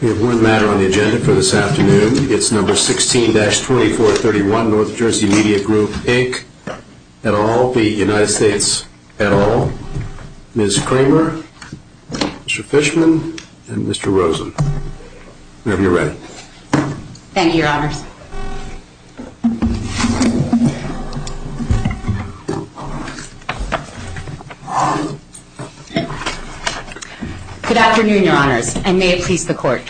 We have one matter on the agenda for this afternoon. It's number 16-3431, North Jersey Media Group, Inc. et al., the United States et al., Ms. Kramer, Mr. Fishman, and Mr. Rosen. Thank you, Your Honor. Good afternoon, Your Honors, and may it please the Court.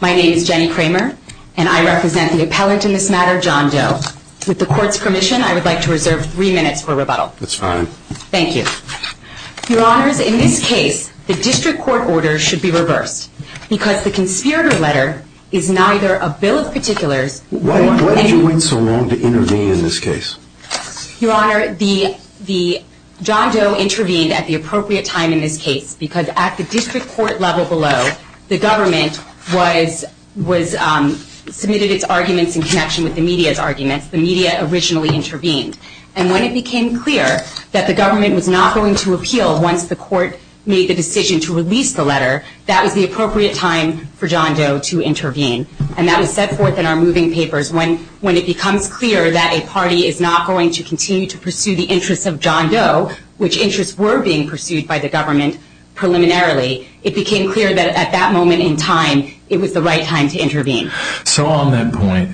My name is Jenny Kramer, and I represent the appellant in this matter, John Doe. With the Court's permission, I would like to reserve three minutes for rebuttal. That's fine. Thank you. Your Honors, in this case, the district court order should be reversed because the conservative letter is neither a bill of particulars... Why do you think it's wrong to intervene in this case? Your Honor, John Doe intervened at the appropriate time in this case because at the district court level below, the government submitted its arguments in connection with the media's arguments. The media originally intervened. And when it became clear that the government was not going to appeal once the court made the decision to release the letter, that was the appropriate time for John Doe to intervene. And that was set forth in our moving papers. When it becomes clear that a party is not going to continue to pursue the interests of John Doe, which interests were being pursued by the government preliminarily, it became clear that at that moment in time, it was the right time to intervene. So on that point,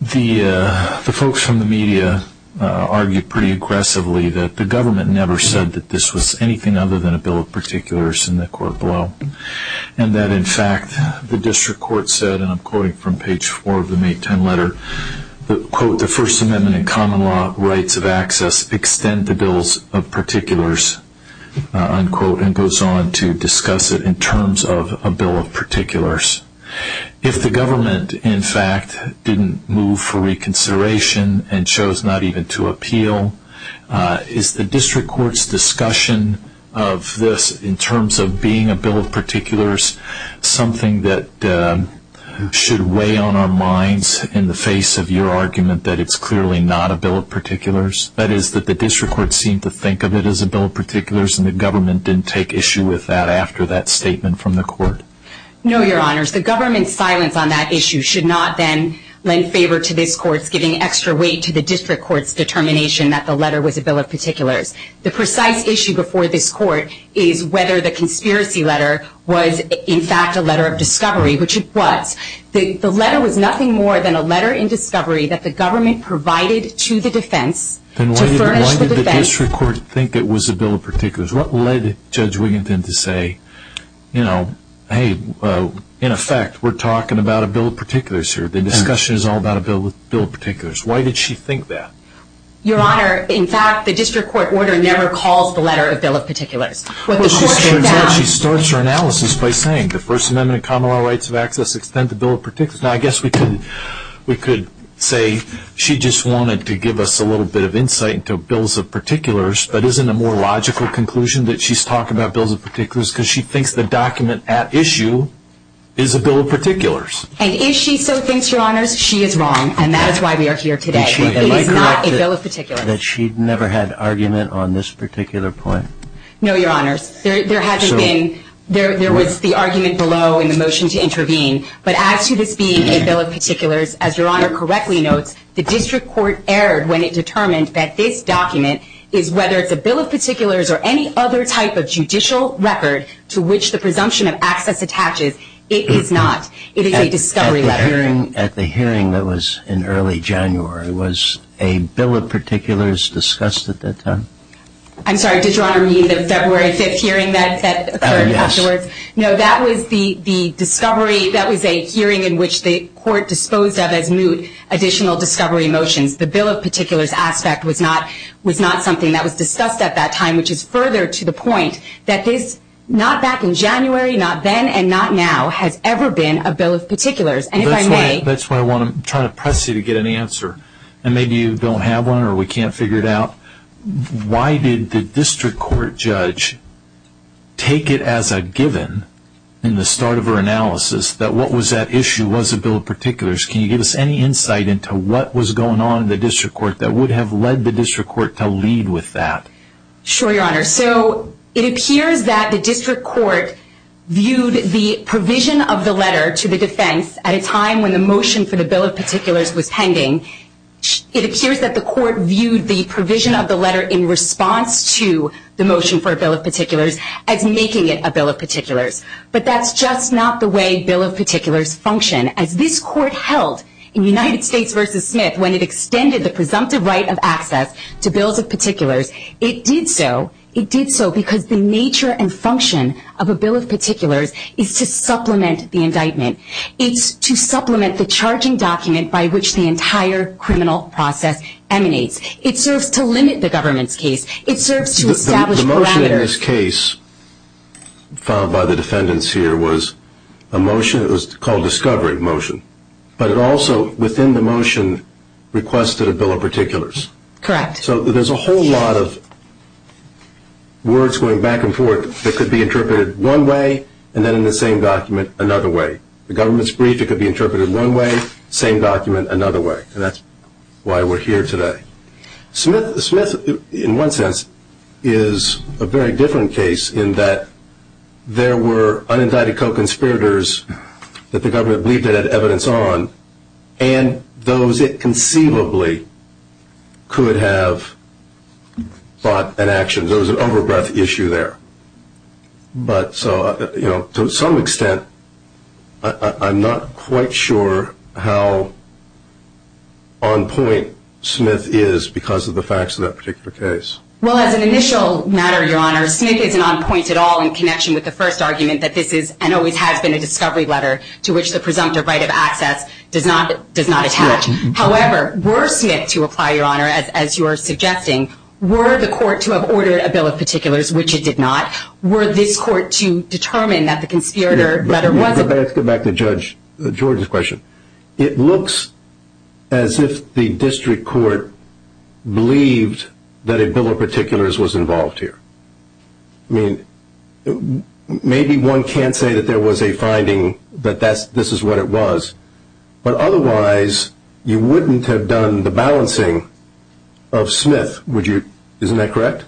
the folks from the media argued pretty aggressively that the government never said that this was anything other than a bill of particulars in the court below. And that, in fact, the district court said, and I'm quoting from page four of the May 10 letter, quote, the First Amendment and common law rights of access extend the bills of particulars, unquote, and goes on to discuss it in terms of a bill of particulars. If the government, in fact, didn't move for reconsideration and chose not even to appeal, is the district court's discussion of this in terms of being a bill of particulars something that should weigh on our minds in the face of your argument that it's clearly not a bill of particulars? That is, that the district court seemed to think of it as a bill of particulars and the government didn't take issue with that after that statement from the court? No, Your Honors. The government's silence on that issue should not, then, lend favor to this court's giving extra weight to the district court's determination that the letter was a bill of particulars. The precise issue before this court is whether the conspiracy letter was, in fact, a letter of discovery, which it was. The letter was nothing more than a letter in discovery that the government provided to the defense to purge the defense. Then why did the district court think it was a bill of particulars? What led Judge Wiginton to say, you know, hey, in effect, we're talking about a bill of particulars here. The discussion is all about a bill of particulars. Why did she think that? Your Honor, in fact, the district court order never called the letter a bill of particulars. She starts her analysis by saying the First Amendment and common law rights of access extend to bill of particulars. Now, I guess we could say she just wanted to give us a little bit of insight into bills of particulars, but isn't it a more logical conclusion that she's talking about bills of particulars because she thinks the document at issue is a bill of particulars? And if she so thinks, Your Honor, she is wrong, and that is why we are here today. She thinks it's not a bill of particulars. She never had an argument on this particular point. No, Your Honor. There hasn't been. There was the argument below and the motion to intervene. But as to this being a bill of particulars, as Your Honor correctly notes, the district court erred when it determined that this document is whether it's a bill of particulars or any other type of judicial record to which the presumption of access attaches. It is not. It is a discovery letter. At the hearing that was in early January, was a bill of particulars discussed at that time? I'm sorry. Yes. No, that was the discovery. That was a hearing in which the court disposed of as moot additional discovery motions. The bill of particulars aspect was not something that was discussed at that time, which is further to the point that this, not back in January, not then, and not now, has ever been a bill of particulars. And if I may. That's why I want to try to press you to get an answer. And maybe you don't have one or we can't figure it out. Why did the district court judge take it as a given in the start of her analysis that what was at issue was a bill of particulars? Can you give us any insight into what was going on in the district court that would have led the district court to lead with that? Sure, Your Honor. So it appears that the district court viewed the provision of the letter to the defense at a time when the motion for the bill of particulars was pending. It appears that the court viewed the provision of the letter in response to the motion for a bill of particulars as making it a bill of particulars. But that's just not the way bill of particulars function. As this court held in United States v. Smith when it extended the presumptive right of access to bills of particulars, it did so because the nature and function of a bill of particulars is to supplement the indictment. It's to supplement the charging document by which the entire criminal process emanates. It serves to limit the government's case. The motion in this case filed by the defendants here was a motion. It was called a discovery motion. But it also, within the motion, requested a bill of particulars. Correct. So there's a whole lot of words going back and forth that could be interpreted one way and then in the same document another way. The government's brief could be interpreted one way, same document another way. And that's why we're here today. Smith, in one sense, is a very different case in that there were unindicted co-conspirators that the government believed it had evidence on and those it conceivably could have fought an action. There was an overbreath issue there. But to some extent, I'm not quite sure how on point Smith is because of the facts of that particular case. Well, as an initial matter, Your Honor, Smith isn't on point at all in connection with the first argument that this is and always has been a discovery letter to which the presumptive right of access does not attach. However, were Smith, to reply, Your Honor, as you were suggesting, were the court to have ordered a bill of particulars, which it did not, were this court to determine that the conspirator letter wasn't? Let me go back to Judge Jordan's question. It looks as if the district court believed that a bill of particulars was involved here. I mean, maybe one can't say that there was a finding that this is what it was, but otherwise, you wouldn't have done the balancing of Smith, would you? Isn't that correct?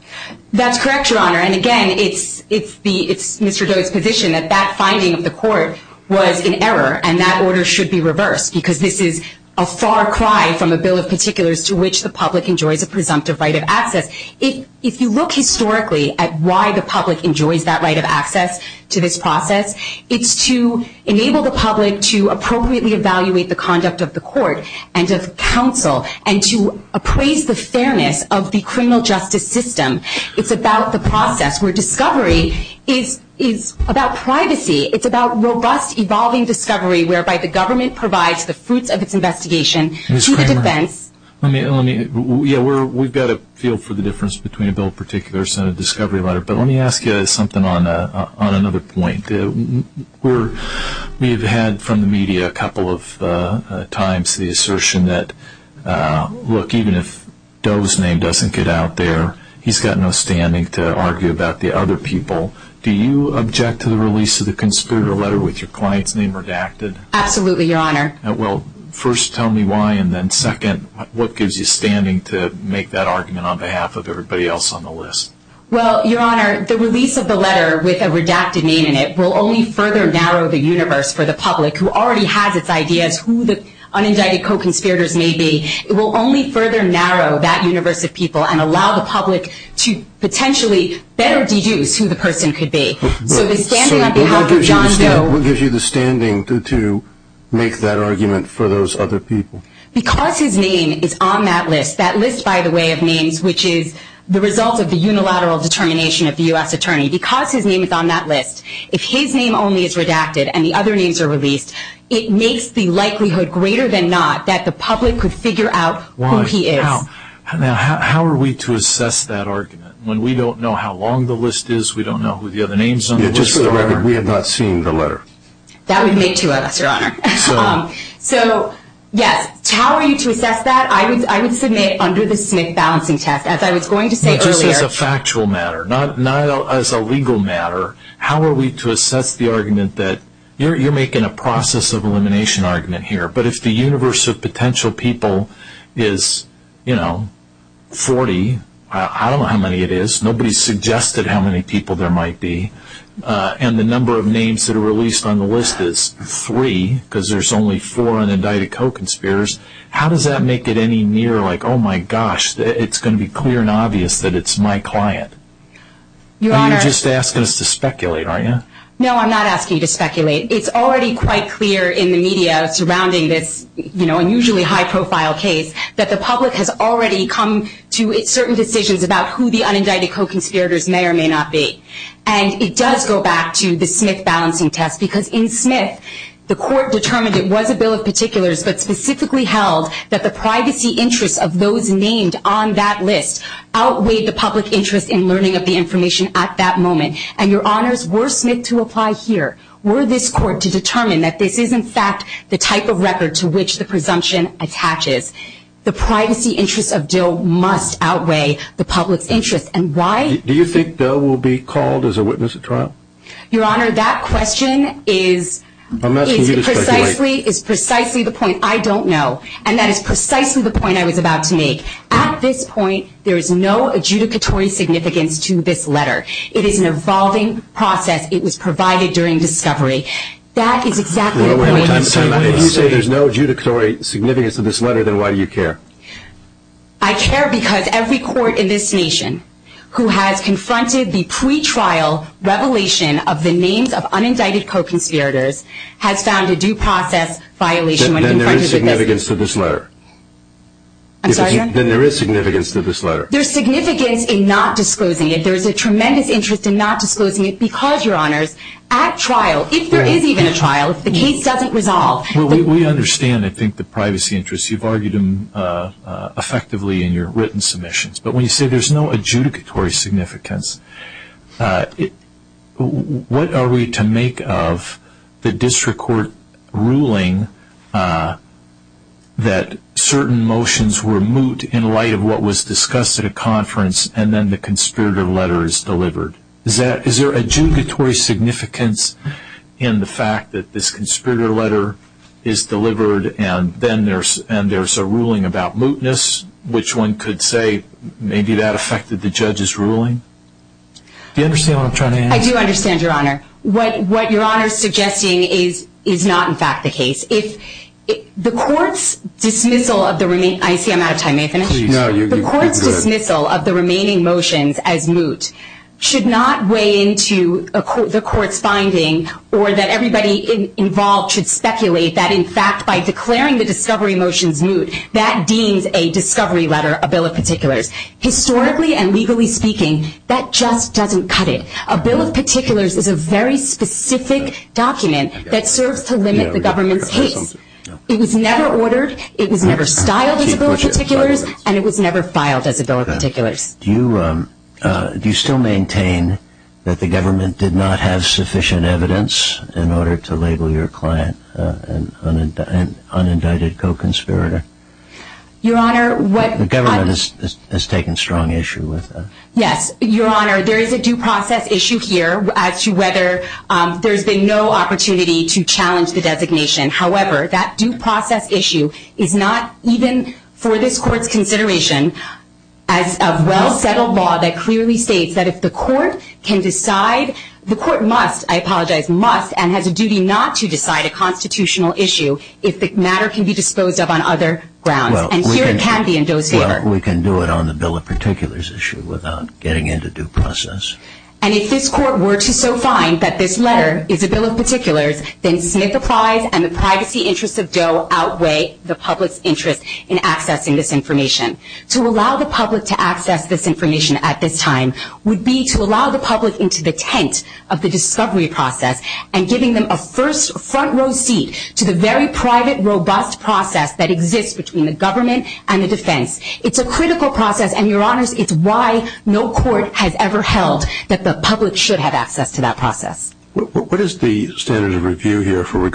That's correct, Your Honor. And again, it's Mr. Jordan's position that that finding of the court was in error and that order should be reversed because this is a far cry from a bill of particulars to which the public enjoyed the presumptive right of access. If you look historically at why the public enjoyed that right of access to this process, it's to enable the public to appropriately evaluate the conduct of the court and of counsel and to appraise the fairness of the criminal justice system. It's about the process where discovery is about privacy. It's about robust, evolving discovery whereby the government provides the fruits of its investigation. Ms. Kramer, we've got a feel for the difference between a bill of particulars and a discovery letter, but let me ask you something on another point. We've had from the media a couple of times the assertion that, look, even if Doe's name doesn't get out there, he's got no standing to argue about the other people. Do you object to the release of the conspirator letter with your client's name redacted? Absolutely, Your Honor. Well, first, tell me why, and then second, what gives you standing to make that argument on behalf of everybody else on the list? Well, Your Honor, the release of the letter with a redacted name in it will only further narrow the universe for the public who already has this idea of who the unindicted co-conspirators may be. It will only further narrow that universe of people and allow the public to potentially better deduce who the person could be. So the standing on behalf of John Doe... What gives you the standing to make that argument for those other people? Because his name is on that list, that list, by the way, of names, which is the result of the unilateral determination of the U.S. attorney. Because his name is on that list, if his name only is redacted and the other names are released, it makes the likelihood greater than not that the public could figure out who he is. Now, how are we to assess that argument when we don't know how long the list is, we don't know who the other names on the list are? Just for the record, we have not seen the letter. That would make you us, Your Honor. So, yes, how are you to assess that? I would submit under the Smith balancing test, as I was going to say earlier. Just as a factual matter, not as a legal matter. How are we to assess the argument that you're making a process of elimination argument here, but if the universe of potential people is, you know, 40, I don't know how many it is. Nobody has suggested how many people there might be. And the number of names that are released on the list is three, because there's only four unindicted co-conspirators. How does that make it any nearer, like, oh, my gosh, it's going to be clear and obvious that it's my client? You're just asking us to speculate, aren't you? No, I'm not asking you to speculate. It's already quite clear in the media surrounding this, you know, unusually high-profile case that the public has already come to certain decisions about who the unindicted co-conspirators may or may not be. And it does go back to the Smith balancing test, because in Smith, the court determined it was a bill of particulars, but specifically held that the privacy interest of those named on that list outweighed the public interest in learning of the information at that moment. And, Your Honors, were Smith to apply here, were this court to determine that this is, in fact, the type of record to which the presumption attaches? The privacy interest of Dill must outweigh the public interest, and why? Do you think Dill will be called as a witness at trial? Your Honor, that question is precisely the point I don't know, and that is precisely the point I was about to make. At this point, there is no adjudicatory significance to this letter. It is an evolving process. It was provided during discovery. That is exactly the point. Why did you say there's no adjudicatory significance to this letter, then why do you care? I care because every court in this nation who has confronted the pretrial revelation of the names of unindicted co-conspirators has found a due process violation. Then there is significance to this letter. I'm sorry? Then there is significance to this letter. There's significance in not disclosing it. There's a tremendous interest in not disclosing it because, Your Honors, at trial, if there is even a trial, if the case doesn't resolve. We understand, I think, the privacy interest. You've argued them effectively in your written submissions. But when you say there's no adjudicatory significance, what are we to make of the district court ruling that certain motions were moot in light of what was discussed at a conference and then the conspirator letter is delivered? Is there adjudicatory significance in the fact that this conspirator letter is delivered and then there's a ruling about mootness, which one could say maybe that affected the judge's ruling? Do you understand what I'm trying to ask? I do understand, Your Honor. What Your Honor is suggesting is not, in fact, the case. The court's dismissal of the remaining motions as moot should not weigh into the court's finding or that everybody involved should speculate that, in fact, by declaring the discovery motion moot, that deems a discovery letter a bill of particulars. Historically and legally speaking, that just doesn't cut it. A bill of particulars is a very specific document that serves to limit the government's hate. It was never ordered, it was never filed as a bill of particulars, and it was never filed as a bill of particulars. Do you still maintain that the government did not have sufficient evidence in order to label your client an unindicted co-conspirator? Your Honor, what- The government has taken strong issue with that. Yes, Your Honor. There is a due process issue here as to whether there's been no opportunity to challenge the designation. However, that due process issue is not, even for this court's consideration, as a well-settled law that clearly states that if the court can decide- the court must, I apologize, must, and has a duty not to decide a constitutional issue if the matter can be disposed of on other grounds. And here it can be endorsed, Your Honor. Well, we can do it on the bill of particulars issue without getting into due process. And if this court were to so find that this letter is a bill of particulars, then Smith applies and the privacy interests of Doe outweigh the public's interest in accessing this information. To allow the public to access this information at this time would be to allow the public into the tent of the discovery process and giving them a first front row seat to the very private, robust process that exists between the government and the defense. It's a critical process and, Your Honor, it's why no court has ever held that the public should have access to that process. What is the standard of review here with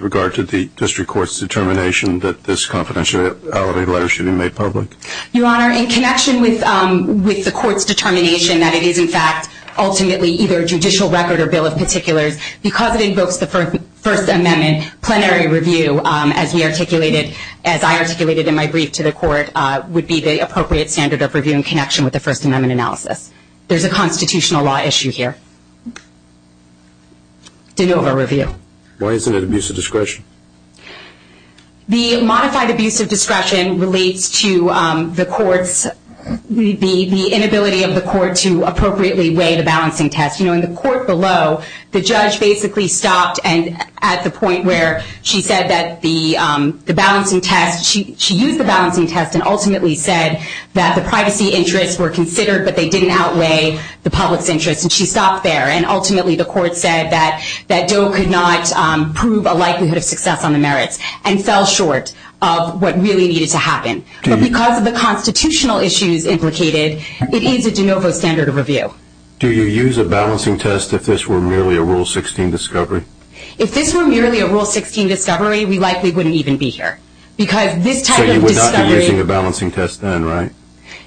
regard to the district court's determination that this confidentiality letter should be made public? Your Honor, in connection with the court's determination that it is, in fact, ultimately either a judicial record or bill of particulars, because it invokes the First Amendment, then plenary review, as I articulated in my brief to the court, would be the appropriate standard of review in connection with the First Amendment analysis. There's a constitutional law issue here. Why isn't it abuse of discretion? The modified abuse of discretion relates to the inability of the court to appropriately weigh the balancing test. You know, in the court below, the judge basically stopped at the point where she said that the balancing test, she used the balancing test and ultimately said that the privacy interests were considered, but they didn't outweigh the public's interest, and she stopped there. And ultimately the court said that Doe could not prove a likelihood of success on the merits and fell short of what really needed to happen. Because of the constitutional issues implicated, it is a de novo standard of review. Do you use a balancing test if this were merely a Rule 16 discovery? If this were merely a Rule 16 discovery, we likely wouldn't even be here. So you would not be using a balancing test then, right?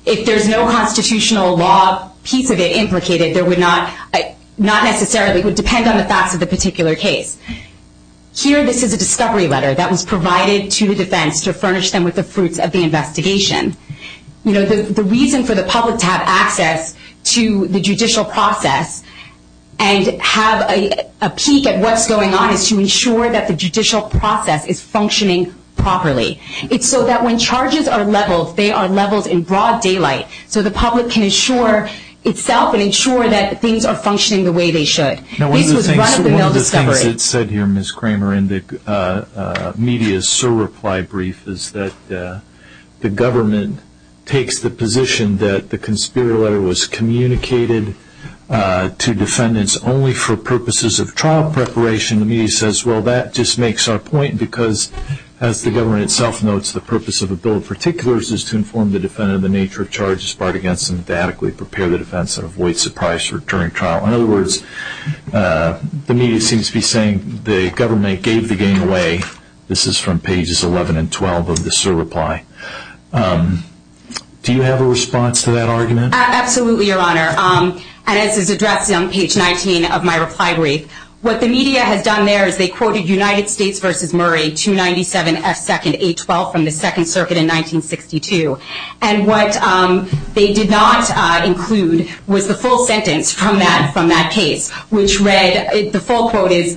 If there's no constitutional law piece of it implicated, it would depend on the fact of the particular case. Here this is a discovery letter that was provided to the defense to furnish them with the fruits of the investigation. You know, the reason for the public to have access to the judicial process and have a peek at what's going on is to ensure that the judicial process is functioning properly. It's so that when charges are leveled, they are leveled in broad daylight, so the public can ensure itself and ensure that things are functioning the way they should. One of the things that's said here, Ms. Kramer, in the media's SOAR reply brief, is that the government takes the position that the conspirator letter was communicated to defendants only for purposes of trial preparation. The media says, well, that just makes our point because, as the government itself notes, the purpose of a bill of particulars is to inform the defendant of the nature of charges brought against them, to adequately prepare the defense and avoid surprise during trial. In other words, the media seems to be saying the government gave the game away. This is from pages 11 and 12 of the SOAR reply. Do you have a response to that argument? Absolutely, Your Honor. And this is addressed on page 19 of my reply brief. What the media had done there is they quoted United States v. Murray 297S2ndA12 from the Second Circuit in 1962. And what they did not include was the full sentence from that case, which read, the full quote reads,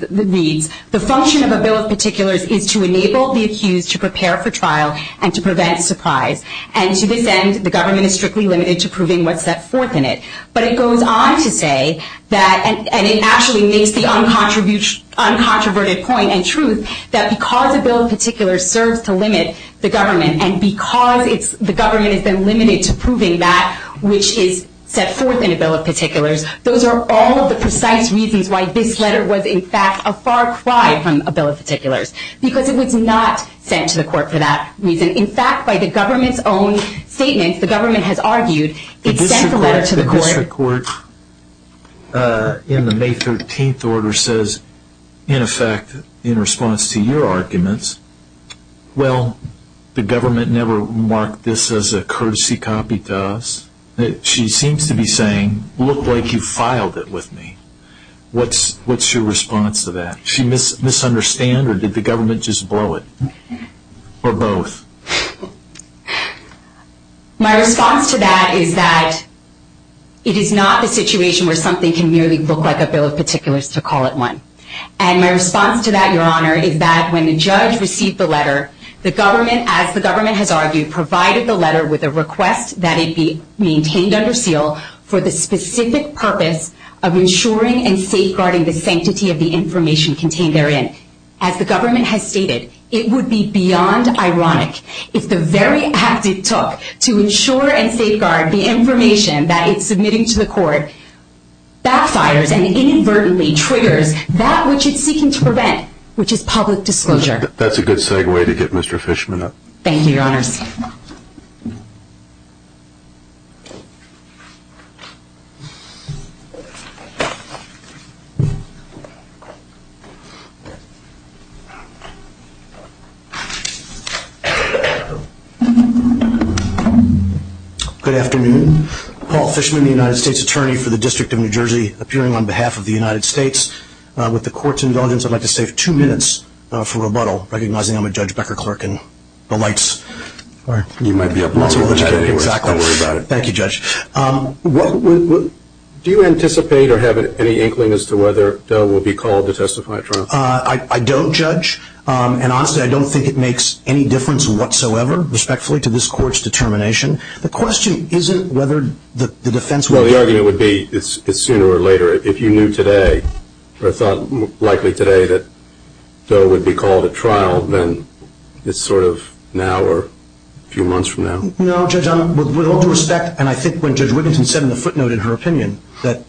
the function of a bill of particulars is to enable the accused to prepare for trial and to prevent surprise, and to defend that the government is strictly limited to proving what's at force in it. But it goes on to say, and it actually makes the uncontroverted point and truth, that because a bill of particulars serves to limit the government, and because the government has been limited to proving that which is set forth in a bill of particulars, those are all of the precise reasons why this letter was, in fact, a far cry from a bill of particulars. Because it was not sent to the court for that reason. In fact, by the government's own statement, the government has argued, it sent the letter to the court. The court in the May 13th order says, in effect, in response to your arguments, well, the government never marked this as a courtesy copy to us. She seems to be saying, look like you filed it with me. What's your response to that? Did she misunderstand or did the government just blow it? Or both? My response to that is that it is not a situation where something can merely look like a bill of particulars to call it one. And my response to that, Your Honor, is that when the judge received the letter, the government, as the government has argued, provided the letter with a request that it be maintained under seal for the specific purpose of ensuring and safeguarding the sanctity of the information contained therein. As the government has stated, it would be beyond ironic if the very act it took to ensure and safeguard the information that it's submitting to the court backfires and inadvertently triggers that which it's seeking to prevent, which is public disclosure. That's a good segue to get Mr. Fishman up. Thank you, Your Honor. Good afternoon. Paul Fishman, the United States Attorney for the District of New Jersey, appearing on behalf of the United States. With the court's indulgence, I'd like to save two minutes for rebuttal, recognizing I'm a Judge Becker clerk and the lights. You might be up next. Thank you, Judge. Do you anticipate or have any inkling as to whether the bill will be called to testify at trial? I don't, Judge. And honestly, I don't think it makes any difference whatsoever, respectfully, to this court's determination. The question isn't whether the defense will do it. Well, the argument would be sooner or later. If you knew today or thought likely today that the bill would be called at trial, then it's sort of now or a few months from now? No, Judge. With all due respect, and I think when Judge Wigginson said in the footnote in her opinion,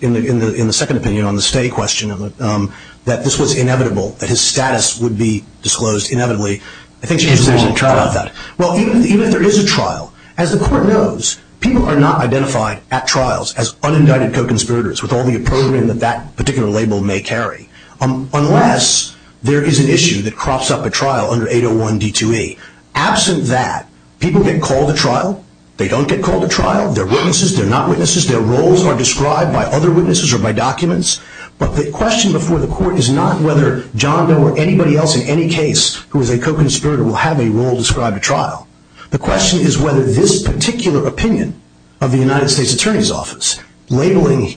in the second opinion on the stay question, that this was inevitable, that his status would be disclosed inevitably, I think she has mentioned trial. Well, even if there is a trial, as the court knows, people are not identified at trials as unindicted co-conspirators with all the approval that that particular label may carry, unless there is an issue that crops up at trial under 801 D2E. Absent that, people get called at trial. They don't get called at trial. They're witnesses. They're not witnesses. Their roles are described by other witnesses or by documents. But the question before the court is not whether John Doe or anybody else in any case who is a co-conspirator will have a role described at trial. The question is whether this particular opinion of the United States Attorney's Office, labeling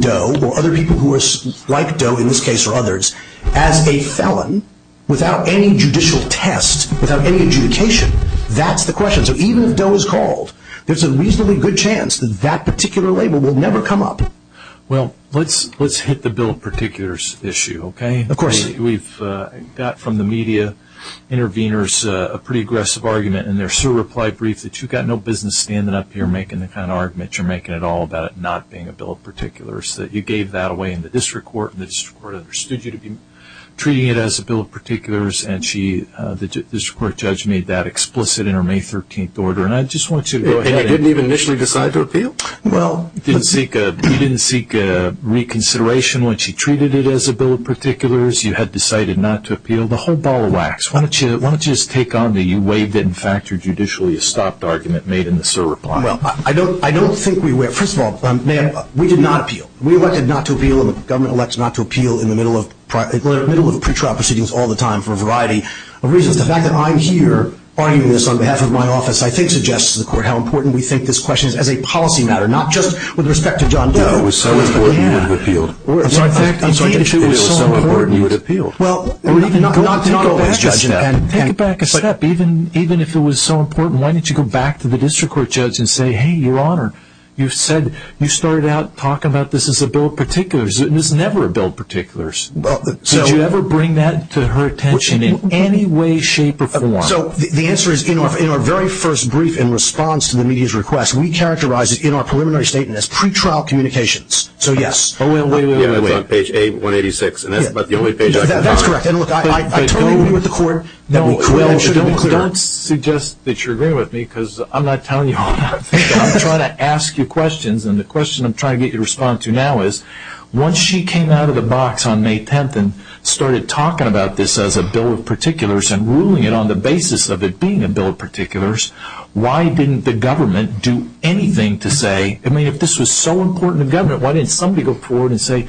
Doe or other people who are like Doe, in this case or others, as a felon without any judicial test, without any adjudication, that's the question. So even if Doe is called, there's a reasonably good chance that that particular label will never come up. Well, let's hit the bill of particulars issue, okay? Of course. We've got from the media interveners a pretty aggressive argument, and there's still a reply brief that you've got no business standing up here making that kind of argument. You're making it all about it not being a bill of particulars. You gave that away in the district court, and the district court understood you to be treating it as a bill of particulars, and the district court judge made that explicit in her May 13th order, and I just want you to go ahead. And I didn't even initially decide to appeal? Well, you didn't seek reconsideration when she treated it as a bill of particulars. You had decided not to appeal. The whole ball of wax. Why don't you just take on the you waived it and factored judicially a stopped argument made in the SIR report? Well, I don't think we were. First of all, we did not appeal. The government elects not to appeal in the middle of pre-trial proceedings all the time for a variety of reasons. The fact that I'm here arguing this on behalf of my office, I think, suggests to the court how important we think this question is as a policy matter, not just with respect to John Doe. No, it was so important you appealed. I'm sorry. It was so important you had appealed. Well, we're not always judging that. Take it back a step. Even if it was so important, why didn't you go back to the district court judge and say, hey, Your Honor, you started out talking about this as a bill of particulars, and it's never a bill of particulars. Did you ever bring that to her attention in any way, shape, or form? The answer is, in our very first brief in response to the media's request, we characterized it in our preliminary statement as pre-trial communications. So, yes. Wait, wait, wait, wait. It's on page 186, and that's about the only page I could find. That's correct. I totally agree with the court. Don't suggest that you're agreeing with me because I'm not telling you all that. I'm trying to ask you questions, and the question I'm trying to get you to respond to now is, once she came out of the box on May 10th and started talking about this as a bill of particulars and ruling it on the basis of it being a bill of particulars, why didn't the government do anything to say, I mean, if this was so important to government, why didn't somebody go forward and say,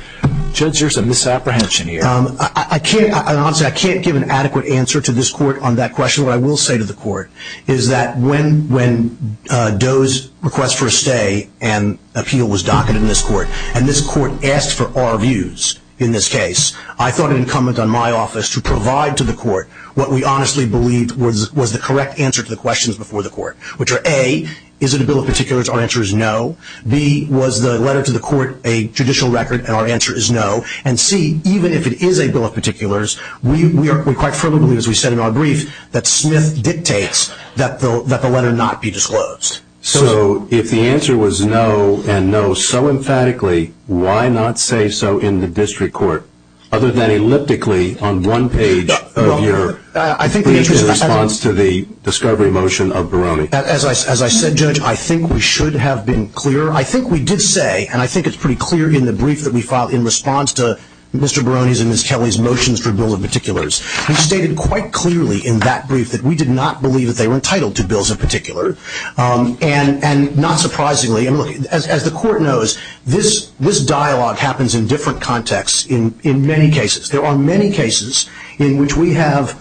Judge, there's a misapprehension here? I can't give an adequate answer to this court on that question. What I will say to the court is that when Doe's request for a stay and a field was docketed in this court and this court asked for our views in this case, I thought it incumbent on my office to provide to the court what we honestly believed was the correct answer to the questions before the court, which are, A, is it a bill of particulars? Our answer is no. B, was the letter to the court a judicial record? And our answer is no. And C, even if it is a bill of particulars, we quite firmly believe, as we said in our brief, that Smith dictates that the letter not be disclosed. So if the answer was no and no so emphatically, why not say so in the district court, other than elliptically on one page of your brief in response to the discovery motion of Barone? As I said, Judge, I think we should have been clear. I think we did say, and I think it's pretty clear in the brief that we filed in response to Mr. Barone's and Ms. Kelly's motions for bill of particulars. We stated quite clearly in that brief that we did not believe that they were entitled to bills of particular. And not surprisingly, as the court knows, this dialogue happens in different contexts in many cases. There are many cases in which we have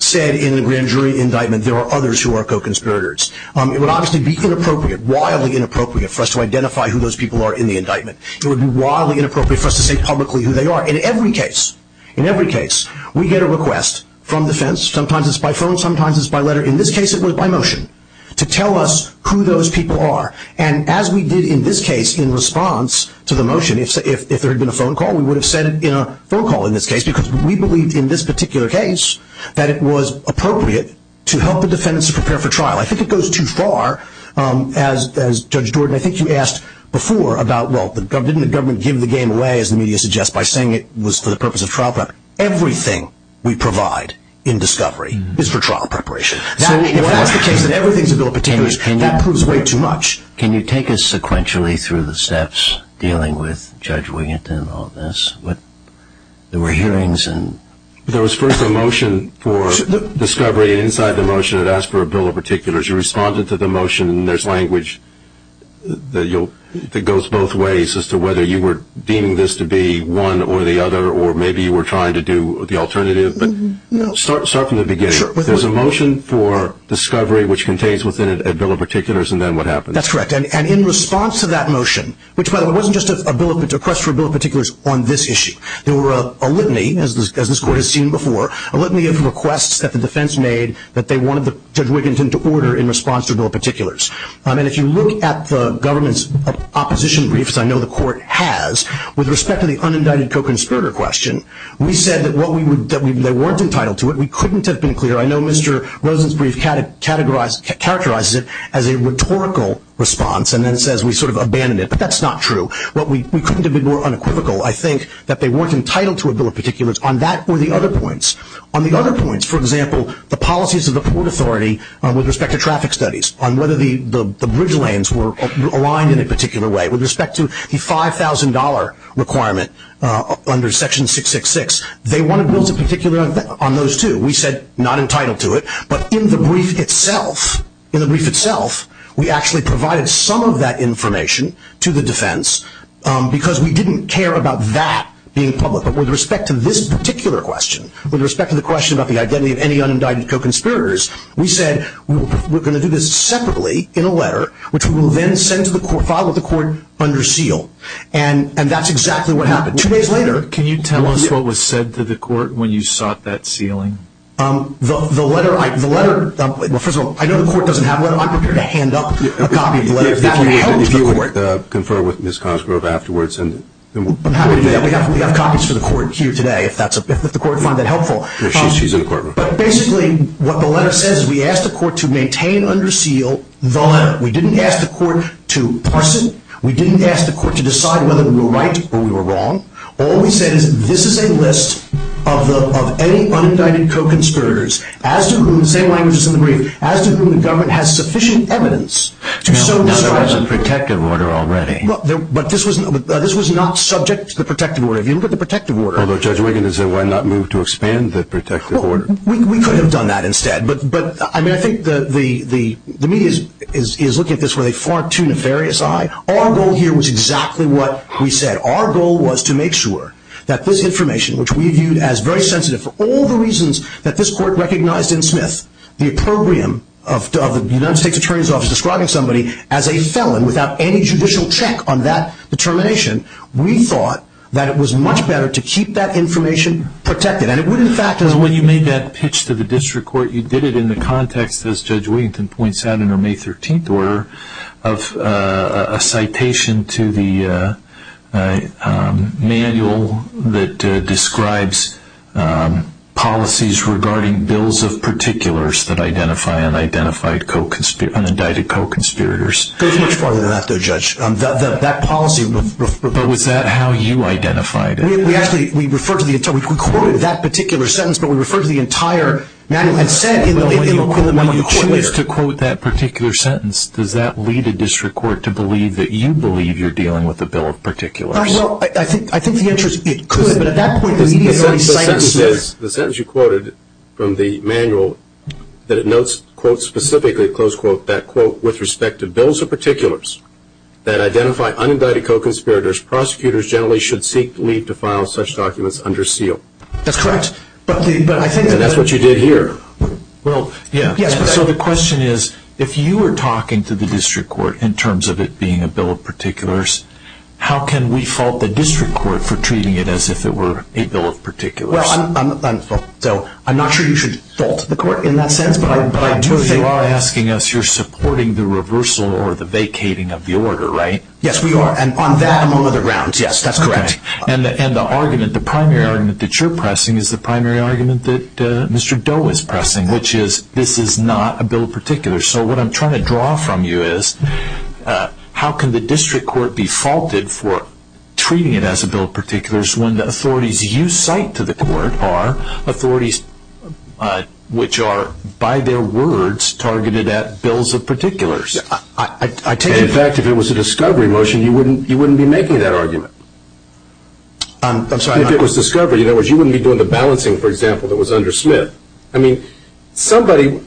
said in the grand jury indictment there are others who are co-conspirators. It would obviously be inappropriate, wildly inappropriate, for us to identify who those people are in the indictment. It would be wildly inappropriate for us to say publicly who they are. In every case, in every case, we get a request from defense. Sometimes it's by phone, sometimes it's by letter. In this case it was by motion to tell us who those people are. And as we did in this case in response to the motion, if there had been a phone call, we would have said it in a phone call in this case because we believed in this particular case that it was appropriate to help the defense prepare for trial. I think it goes too far, as Judge Gordon, I think you asked before about, well, didn't the government give the game away, as the media suggests, by saying it was for the purpose of trial preparation? Everything we provide in discovery is for trial preparation. That proves way too much. Can you take us sequentially through the steps dealing with Judge Williamson and all this? There were hearings and... There was first a motion for discovery inside the motion that asked for a bill of particulars. You responded to the motion. There's language that goes both ways as to whether you were deeming this to be one or the other or maybe you were trying to do the alternative. Start from the beginning. There's a motion for discovery which contains a bill of particulars, and then what happens? That's correct. And in response to that motion, which, by the way, wasn't just a request for a bill of particulars on this issue. There were a litany, as this court has seen before, a litany of requests that the defense made that they wanted Judge Williamson to order in response to bill of particulars. And if you look at the government's opposition briefs, I know the court has, with respect to the unindicted co-conspirator question, we said that they weren't entitled to it. We couldn't have been clearer. I know Mr. Rosen's brief characterizes it as a rhetorical response and then says we sort of abandoned it, but that's not true. We couldn't have been more unequivocal, I think, that they weren't entitled to a bill of particulars. On that were the other points. On the other points, for example, the policies of the Port Authority with respect to traffic studies, on whether the bridge lanes were aligned in a particular way, with respect to the $5,000 requirement under Section 666, they wanted bills of particulars on those too. We said not entitled to it. But in the brief itself, in the brief itself, we actually provided some of that information to the defense because we didn't care about that being public. With respect to this particular question, with respect to the question about the identity of any unindicted co-conspirators, we said we're going to do this separately in a letter, which we will then send to the court, file with the court under seal. And that's exactly what happened. Two days later. Can you tell us what was said to the court when you sought that sealing? The letter, first of all, I know the court doesn't have a letter. I'm prepared to hand up a copy of the letter to the court. I'd like to confer with Ms. Cosgrove afterwards. We've got copies for the court here today, if the court finds that helpful. Basically, what the letter says is we asked the court to maintain under seal the letter. We didn't ask the court to parson. We didn't ask the court to decide whether we were right or we were wrong. All we said is this is a list of any unindicted co-conspirators, as to whom the government has sufficient evidence. But there was a protective order already. But this was not subject to the protective order. If you look at the protective order. Although Judge Wiggins said, why not move to expand the protective order? We could have done that instead. But I think the media is looking at this with a far too nefarious eye. Our goal here was exactly what we said. Our goal was to make sure that this information, which we viewed as very sensitive, for all the reasons that this court recognized in Smith, the opprobrium of the United States Attorney's Office describing somebody as a felon, without any judicial check on that determination, we thought that it was much better to keep that information protected. And it would, in fact, when you made that pitch to the district court, you did it in the context, as Judge Wiggins points out in her May 13th order, of a citation to the manual that describes policies regarding bills of particulars that identify and identified co-conspirators, and indicted co-conspirators. That policy. But was that how you identified it? We quoted that particular sentence, but we referred to the entire manual. When you choose to quote that particular sentence, does that lead a district court to believe that you believe you're dealing with a bill of particulars? Well, I think the answer is it could, but at that point the media... The sentence you quoted from the manual, that it notes, quote, specifically, close quote, that quote, with respect to bills of particulars that identify unindicted co-conspirators, prosecutors generally should seek leave to file such documents under seal. That's correct. But I think that's what you did here. So the question is, if you were talking to the district court in terms of it being a bill of particulars, how can we fault the district court for treating it as if it were a bill of particulars? I'm not sure you should fault the court in that sense, but I do think... But you are asking us, you're supporting the reversal or the vacating of the order, right? Yes, we are, and on that amount of the rounds, yes, that's correct. And the argument, the primary argument that you're pressing is the primary argument that Mr. Doe is pressing, which is this is not a bill of particulars. So what I'm trying to draw from you is how can the district court be faulted for treating it as a bill of particulars when the authorities you cite to the court are authorities which are, by their words, targeted at bills of particulars? In fact, if it was a discovery motion, you wouldn't be making that argument. If it was discovery, in other words, you wouldn't be doing the balancing, for example, that was under Smith. I mean, somebody,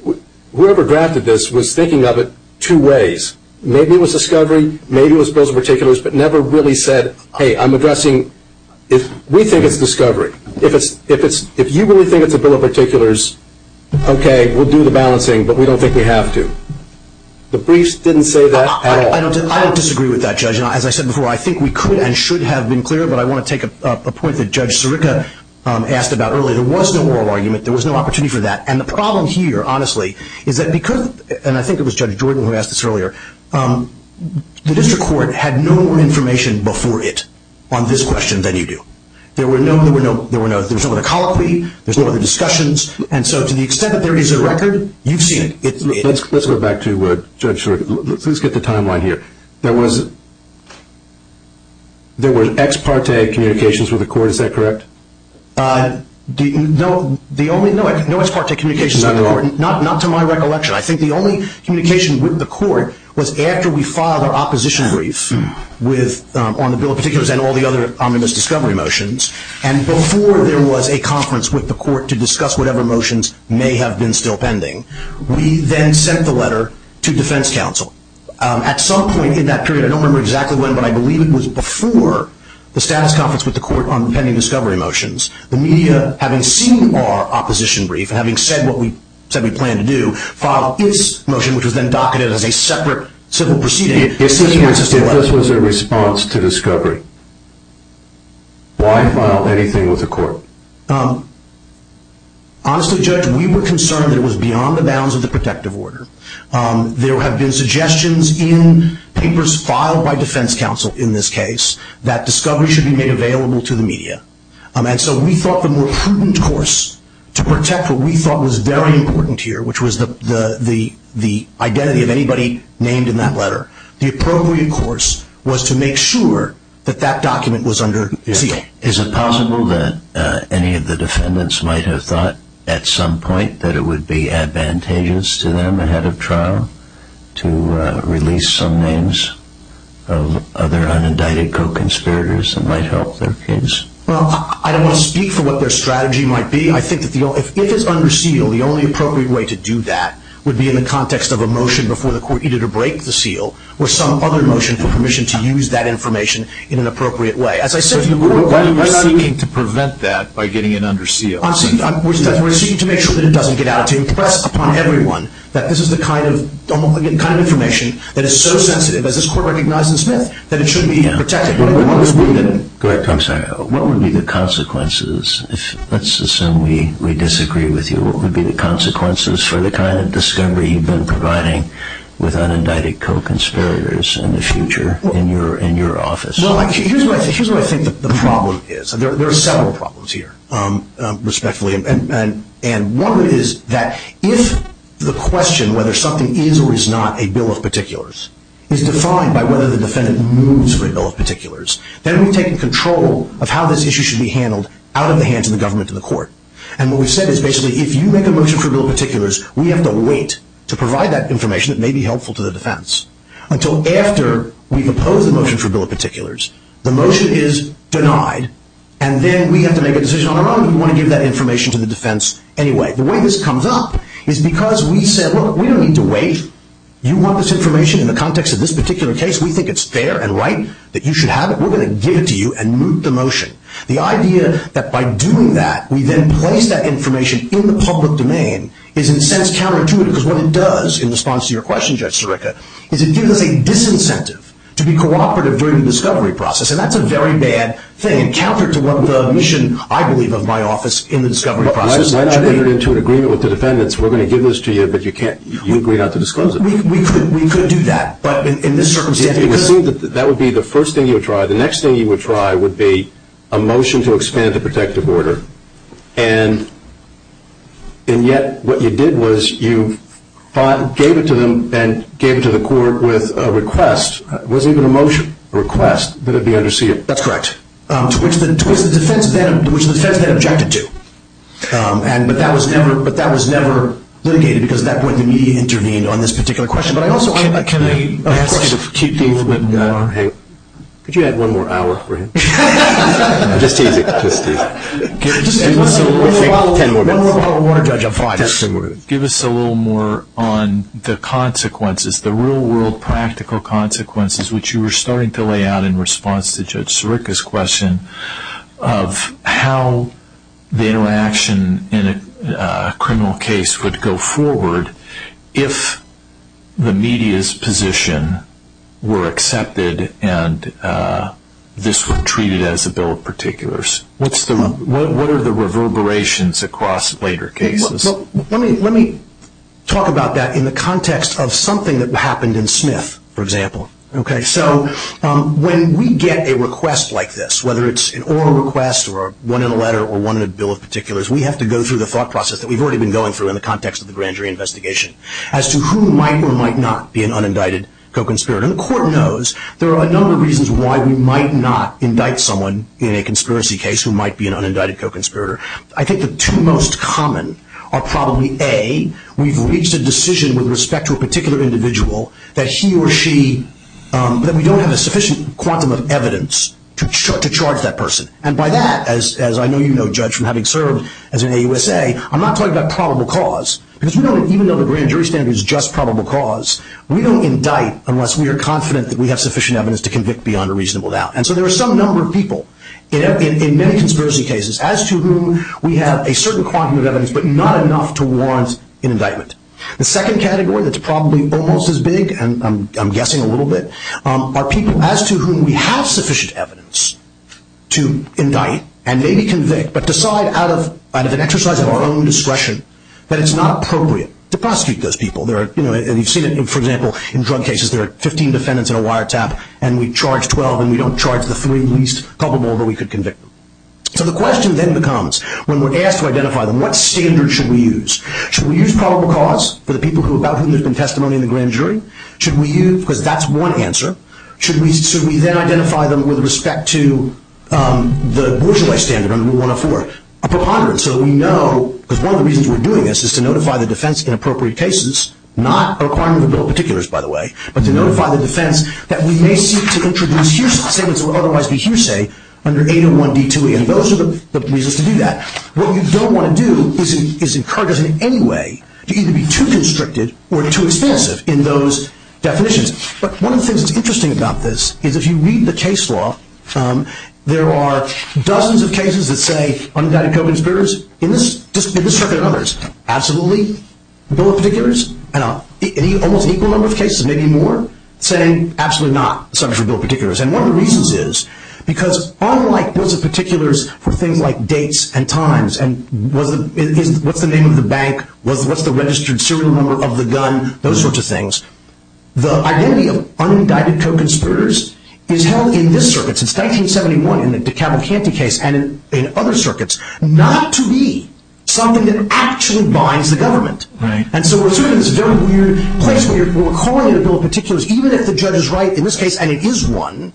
whoever drafted this, was thinking of it two ways. Maybe it was discovery, maybe it was bills of particulars, but never really said, hey, I'm addressing... We think it's discovery. If you really think it's a bill of particulars, okay, we'll do the balancing, but we don't think we have to. The briefs didn't say that. I don't disagree with that, Judge. As I said before, I think we could and should have been clear, but I want to take a point that Judge Sirica asked about earlier. There was no moral argument. There was no opportunity for that. And the problem here, honestly, is that because, and I think it was Judge Jordan who asked this earlier, the district court had no more information before it on this question than you do. There were no... There were no discussions. And so to the extent that there is a record, you've seen it. Let's go back to Judge Sirica. Please get the timeline here. There was ex parte communications with the court. Is that correct? No ex parte communications. Not to my recollection. I think the only communication with the court was after we filed our opposition brief on the bill of particulars and all the other omnibus discovery motions. And before there was a conference with the court to discuss whatever motions may have been still pending, we then sent the letter to defense counsel. At some point in that period, I don't remember exactly when, but I believe it was before the status conference with the court on pending discovery motions, the media, having seen our opposition brief, having said what we said we planned to do, filed its motion, which was then docketed as a separate civil proceeding. If this was a response to discovery, why file anything with the court? Honestly, Judge, we were concerned it was beyond the bounds of the protective order. There have been suggestions in papers filed by defense counsel in this case that discovery should be made available to the media. And so we thought the more prudent course to protect what we thought was very important here, which was the identity of anybody named in that letter, the appropriate course was to make sure that that document was under seal. Is it possible that any of the defendants might have thought at some point that it would be advantageous to them ahead of trial to release some names of other unindicted co-conspirators that might help their case? Well, I don't want to speak for what their strategy might be. I think if it's under seal, the only appropriate way to do that would be in the context of a motion before the court either to break the seal or some other motion for permission to use that information in an appropriate way. I'm not seeking to prevent that by getting it under seal. We're seeking to make sure that it doesn't get out to the press, upon everyone, that this is the kind of information that is so sensitive, as this court recognizes today, that it should be protected. Go ahead, Congressman. What would be the consequences? Let's assume we disagree with you. What would be the consequences for the kind of discovery you've been providing with unindicted co-conspirators in the future in your office? Here's what I think the problem is. There are several problems here, respectfully, and one is that if the question whether something is or is not a bill of particulars is defined by whether the defendant moves for a bill of particulars, then we take control of how this issue should be handled out of the hands of the government and the court. And what we've said is basically if you make a motion for a bill of particulars, we have to wait to provide that information that may be helpful to the defense until after we've opposed the motion for a bill of particulars, the motion is denied, and then we have to make a decision on our own if we want to give that information to the defense anyway. The way this comes up is because we said, look, we don't need to wait. If you want this information in the context of this particular case, we think it's fair and right that you should have it. We're going to give it to you and move the motion. The idea that by doing that, we then place that information in the public domain is in a sense counterintuitive because what it does in response to your question, Justice Eureka, is it gives us a disincentive to be cooperative during the discovery process, and that's a very bad thing counter to what the mission, I believe, of my office in the discovery process. Well, I've entered into an agreement with the defendants. We're going to give this to you, but you agree not to disclose it. We could do that, but in this circumstance, we couldn't. That would be the first thing you would try. The next thing you would try would be a motion to expand the protective order, and yet what you did was you gave it to them and gave it to the court with a request. It wasn't even a motion request, but it would be under seated. That's correct. Which the defense then objected to, but that was never litigated because at that point the media intervened on this particular question. But I also have a question. Could you add one more hour for him? Just take it. Give us a little more on the consequences, the real-world practical consequences, which you were starting to lay out in response to Judge Sirica's question of how the interaction in a criminal case would go forward if the media's position were accepted and this were treated as a bill of particulars. What are the reverberations across later cases? Let me talk about that in the context of something that happened in Smith, for example. When we get a request like this, whether it's an oral request or one in a letter or one in a bill of particulars, we have to go through the thought process that we've already been going through in the context of the grand jury investigation as to who might or might not be an unindicted co-conspirator. The court knows there are a number of reasons why we might not indict someone in a conspiracy case who might be an unindicted co-conspirator. I think the two most common are probably, A, we've reached a decision with respect to a particular individual that he or she, that we don't have a sufficient quantum of evidence to charge that person. By that, as I know you know, Judge, from having served as an AUSA, I'm not talking about probable cause. Even though the grand jury standard is just probable cause, we don't indict unless we are confident that we have sufficient evidence to convict beyond a reasonable doubt. And so there are some number of people in many conspiracy cases as to whom we have a certain quantum of evidence but not enough to warrant an indictment. The second category that's probably almost as big, and I'm guessing a little bit, are people as to whom we have sufficient evidence to indict and maybe convict but decide out of an exercise of our own discretion that it's not appropriate to prosecute those people. And you've seen it, for example, in drug cases, there are 15 defendants in a wiretap and we charge 12 and we don't charge the three least probable that we could convict. So the question then becomes, when we're asked to identify them, what standard should we use? Should we use probable cause for the people about whom there's been testimony in the grand jury? Should we use, because that's one answer, should we then identify them with respect to the bourgeois standard under 104? So we know, because one of the reasons we're doing this is to notify the defense in appropriate cases, not a requirement of the bill of particulars, by the way, but to notify the defense that we may seek to introduce huge standards that would otherwise be hearsay under 801D2E. And those are the reasons to do that. What we don't want to do is encourage us in any way to either be too constricted or too extensive in those definitions. But one of the things that's interesting about this is if you read the case law, there are dozens of cases that say undecided co-conspirators in this category or others, absolutely, bill of particulars. Almost equal number of cases, maybe more, saying absolutely not, subject to bill of particulars. And one of the reasons is because unlike bills of particulars for things like dates and times and what's the name of the bank, what's the registered serial number of the gun, those sorts of things, the identity of undecided co-conspirators is held in this circuit, since 1971 in the DeCavalcanti case and in other circuits, not to be something that actually binds the government. And so we're sort of in this very weird place where if we're calling it a bill of particulars, even if the judge is right in this case, and it is one,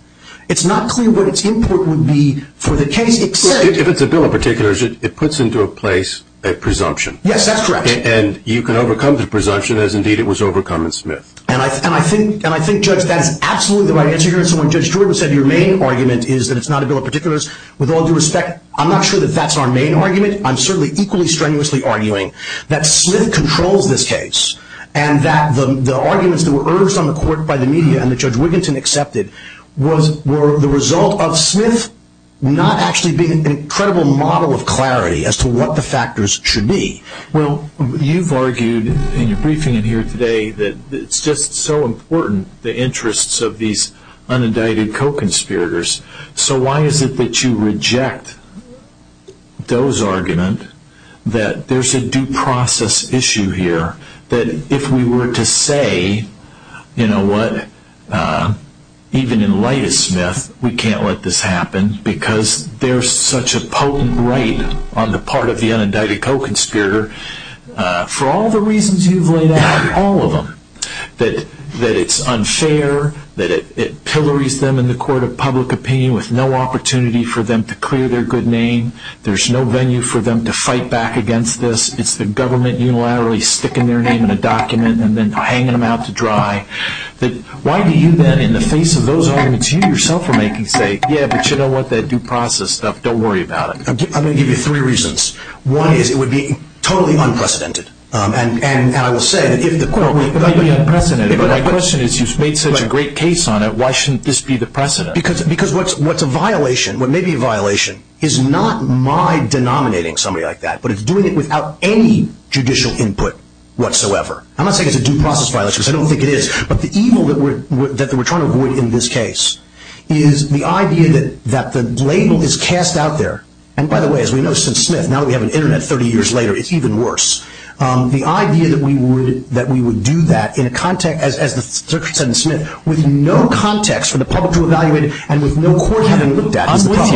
it's not clear what its import would be for the case. If it's a bill of particulars, it puts into a place a presumption. Yes, that's correct. And you can overcome the presumption as indeed it was overcome in Smith. And I think, Judge, that is absolutely the right answer here. So when Judge Jordan said your main argument is that it's not a bill of particulars, with all due respect, I'm not sure that that's our main argument. I'm certainly equally strenuously arguing that Smith controls this case and that the arguments that were urged on the court by the media and that Judge Wigginton accepted were the result of Smith not actually being an incredible model of clarity as to what the factors should be. Well, you've argued in your briefing here today that it's just so important, the interests of these undecided co-conspirators. So why is it that you reject those arguments, that there's a due process issue here, that if we were to say, you know what, even in light of Smith, we can't let this happen, because there's such a potent weight on the part of the undecided co-conspirator, for all the reasons you've laid out, all of them, that it's unfair, that it pillories them in the court of public opinion with no opportunity for them to clear their good name, there's no venue for them to fight back against this, it's the government unilaterally sticking their name in a document and then hanging them out to dry. Why do you then, in the face of those arguments, you yourself are making, say, yeah, but you know what, that due process stuff, don't worry about it. I'm going to give you three reasons. One is it would be totally unprecedented. And I will say, if the question is you've made such a great case on it, why shouldn't this be the precedent? Because what's a violation, what may be a violation, is not my denominating somebody like that, but it's doing it without any judicial input whatsoever. I'm not saying it's a due process violation, because I don't think it is, but the evil that we're trying to avoid in this case is the idea that the label is cast out there. And, by the way, as we know since Smith, now we have an Internet 30 years later, it's even worse. The idea that we would do that in a context, as Dr. Smith said, with no context for the public to evaluate it and with no court having looked at it. I'm with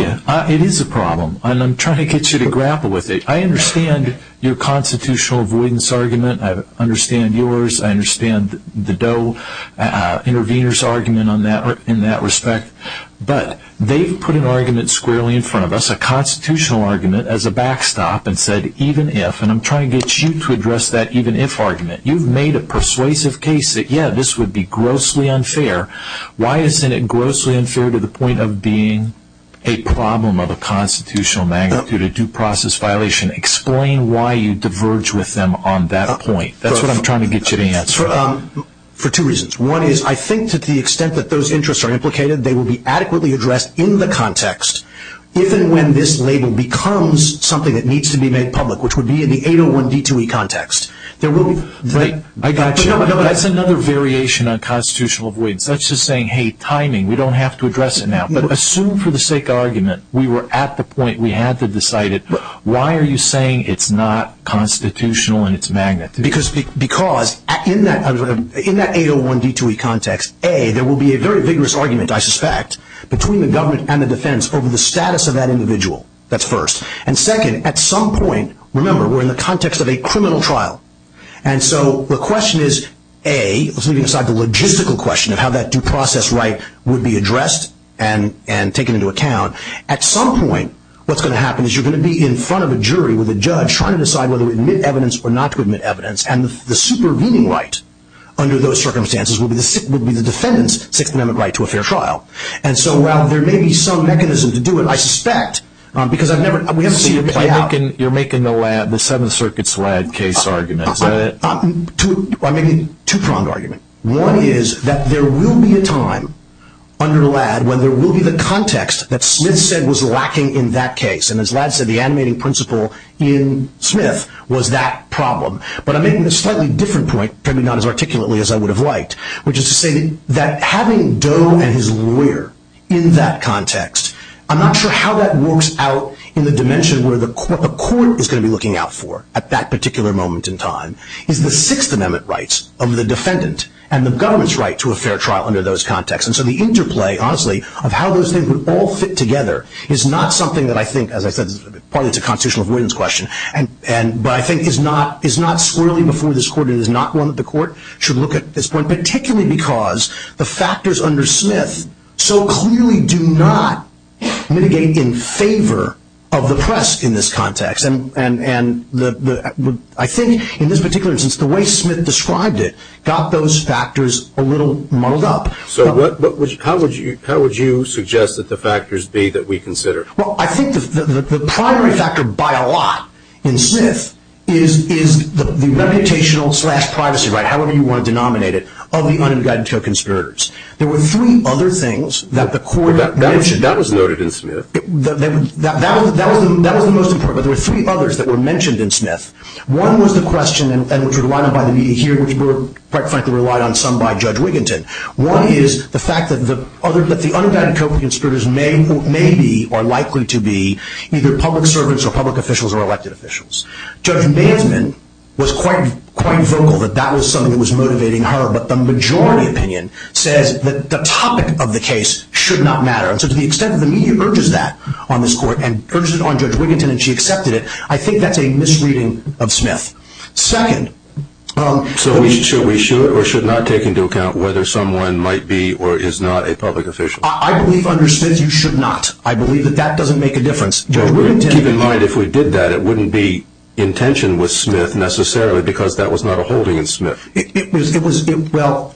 you. It is a problem, and I'm trying to get you to grapple with it. I understand your constitutional avoidance argument, I understand yours, I understand the Doe intervener's argument in that respect, but they put an argument squarely in front of us, a constitutional argument as a backstop, and said even if, and I'm trying to get you to address that even if argument. You've made a persuasive case that, yeah, this would be grossly unfair. Why isn't it grossly unfair to the point of being a problem of a constitutional magnitude, a due process violation? Explain why you diverge with them on that point. That's what I'm trying to get you to answer. For two reasons. One is I think to the extent that those interests are implicated, they will be adequately addressed in the context, even when this label becomes something that needs to be made public, which would be in the 801D2E context. I got you. That's another variation on constitutional avoidance. That's just saying, hey, timing, we don't have to address it now. Assume for the sake of argument we were at the point, we had to decide it. Why are you saying it's not constitutional in its magnitude? Because in that 801D2E context, A, there will be a very vigorous argument, I suspect, between the government and the defense over the status of that individual. That's first. And second, at some point, remember, we're in the context of a criminal trial. And so the question is, A, let's leave aside the logistical question of how that due process right would be addressed and taken into account. At some point what's going to happen is you're going to be in front of a jury with a judge trying to decide whether to admit evidence or not to admit evidence. And the supervening right under those circumstances would be the defendant's Sixth Amendment right to a fair trial. And so while there may be some mechanism to do it, I suspect, because I've never seen it play out. You're making the seventh circuit's LADD case argument. I'm making two-pronged argument. One is that there will be a time under the LADD when there will be the context that Slid said was lacking in that case. And as LADD said, the animating principle in Smith was that problem. But I'm making a slightly different point, apparently not as articulately as I would have liked, which is to say that having Doe and his lawyer in that context, I'm not sure how that works out in the dimension where a court is going to be looking out for at that particular moment in time, is the Sixth Amendment rights of the defendant and the government's right to a fair trial under those contexts. And so the interplay, honestly, of how those things would all fit together is not something that I think, as I said, partly to constitutional avoidance question, but I think is not swirling before this court and is not one that the court should look at at this point, particularly because the factors under Smith so clearly do not mitigate in favor of the press in this context. And I think in this particular instance, the way Smith described it got those factors a little mulled up. So how would you suggest that the factors be that we consider? Well, I think the primary factor by a lot in Smith is the meditational-slash-privacy right, however you want to denominate it, of the unregistered conspirators. There were three other things that the court mentioned. That was noted in Smith. That was the most important, but there were three others that were mentioned in Smith. One was the question, and it was relied on by the media here, and the media were quite frankly relied on some by Judge Wiginton. One is the fact that the unmeditated conspirators may be or likely to be either public servants or public officials or elected officials. Judge Bailman was quite vocal that that was something that was motivating her, but the majority opinion says that the topic of the case should not matter. So to the extent that the media urges that on this court and urges it on Judge Wiginton and she accepted it, I think that's a misreading of Smith. Second. So should we show it or should not take into account whether someone might be or is not a public official? I believe under Smith you should not. I believe that that doesn't make a difference. Keep in mind if we did that, it wouldn't be in tension with Smith necessarily because that was not a holding in Smith. Well,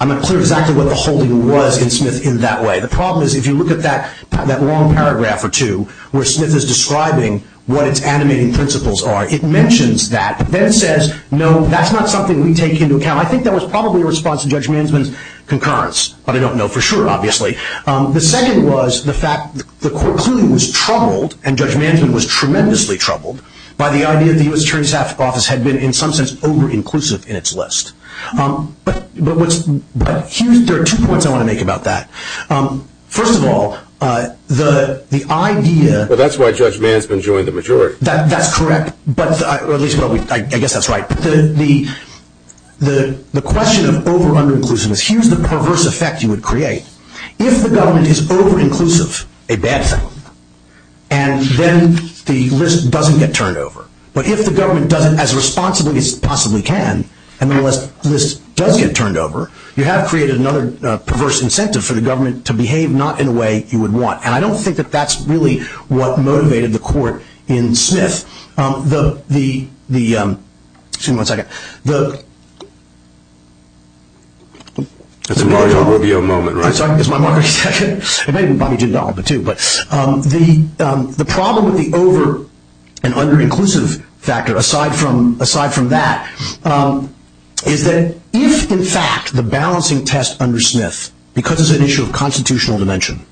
I'm not clear exactly what a holding was in Smith in that way. The problem is if you look at that long paragraph or two where Smith is describing what its animating principles are, it mentions that, but then says, no, that's not something we take into account. I think that was probably a response to Judge Mansman's concurrence, but I don't know for sure, obviously. The second was the fact the court's ruling was troubled and Judge Mansman was tremendously troubled by the idea that the U.S. Attorney's Office had been, in some sense, over-inclusive in its list. But there are two points I want to make about that. First of all, the idea- Well, that's why Judge Mansman joined the majority. That's correct, or at least I guess that's right. The question of over-uninclusiveness, here's the perverse effect you would create. If the government is over-inclusive, a bad thing, and then the list doesn't get turned over. But if the government does it as responsibly as it possibly can and the list does get turned over, you have created another perverse incentive for the government to behave not in a way you would want. And I don't think that that's really what motivated the court in Smith. The- Excuse me one second. That's a Mark Robillard moment, right? Sorry, it's my Mark Robillard section. And maybe Bobby Jindal too. The problem with the over- and under-inclusive factor, aside from that, is that if, in fact, the balancing test under Smith, because it's an issue of constitutional dimension,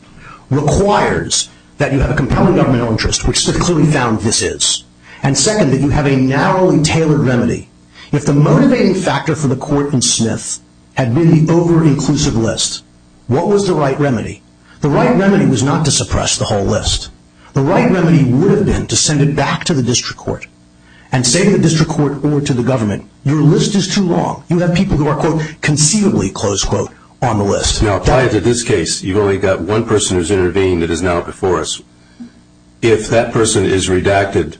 requires that you have a compelling governmental interest, which they've clearly found this is, and second, that you have a narrowly tailored remedy. If the motivating factor for the court in Smith had been the over-inclusive list, what was the right remedy? The right remedy was not to suppress the whole list. The right remedy would have been to send it back to the district court and say to the district court or to the government, your list is too long. You have people who are, quote, conceivably, close quote, on the list. Now, apply it to this case. You've only got one person who's intervened that is now before us. If that person is redacted,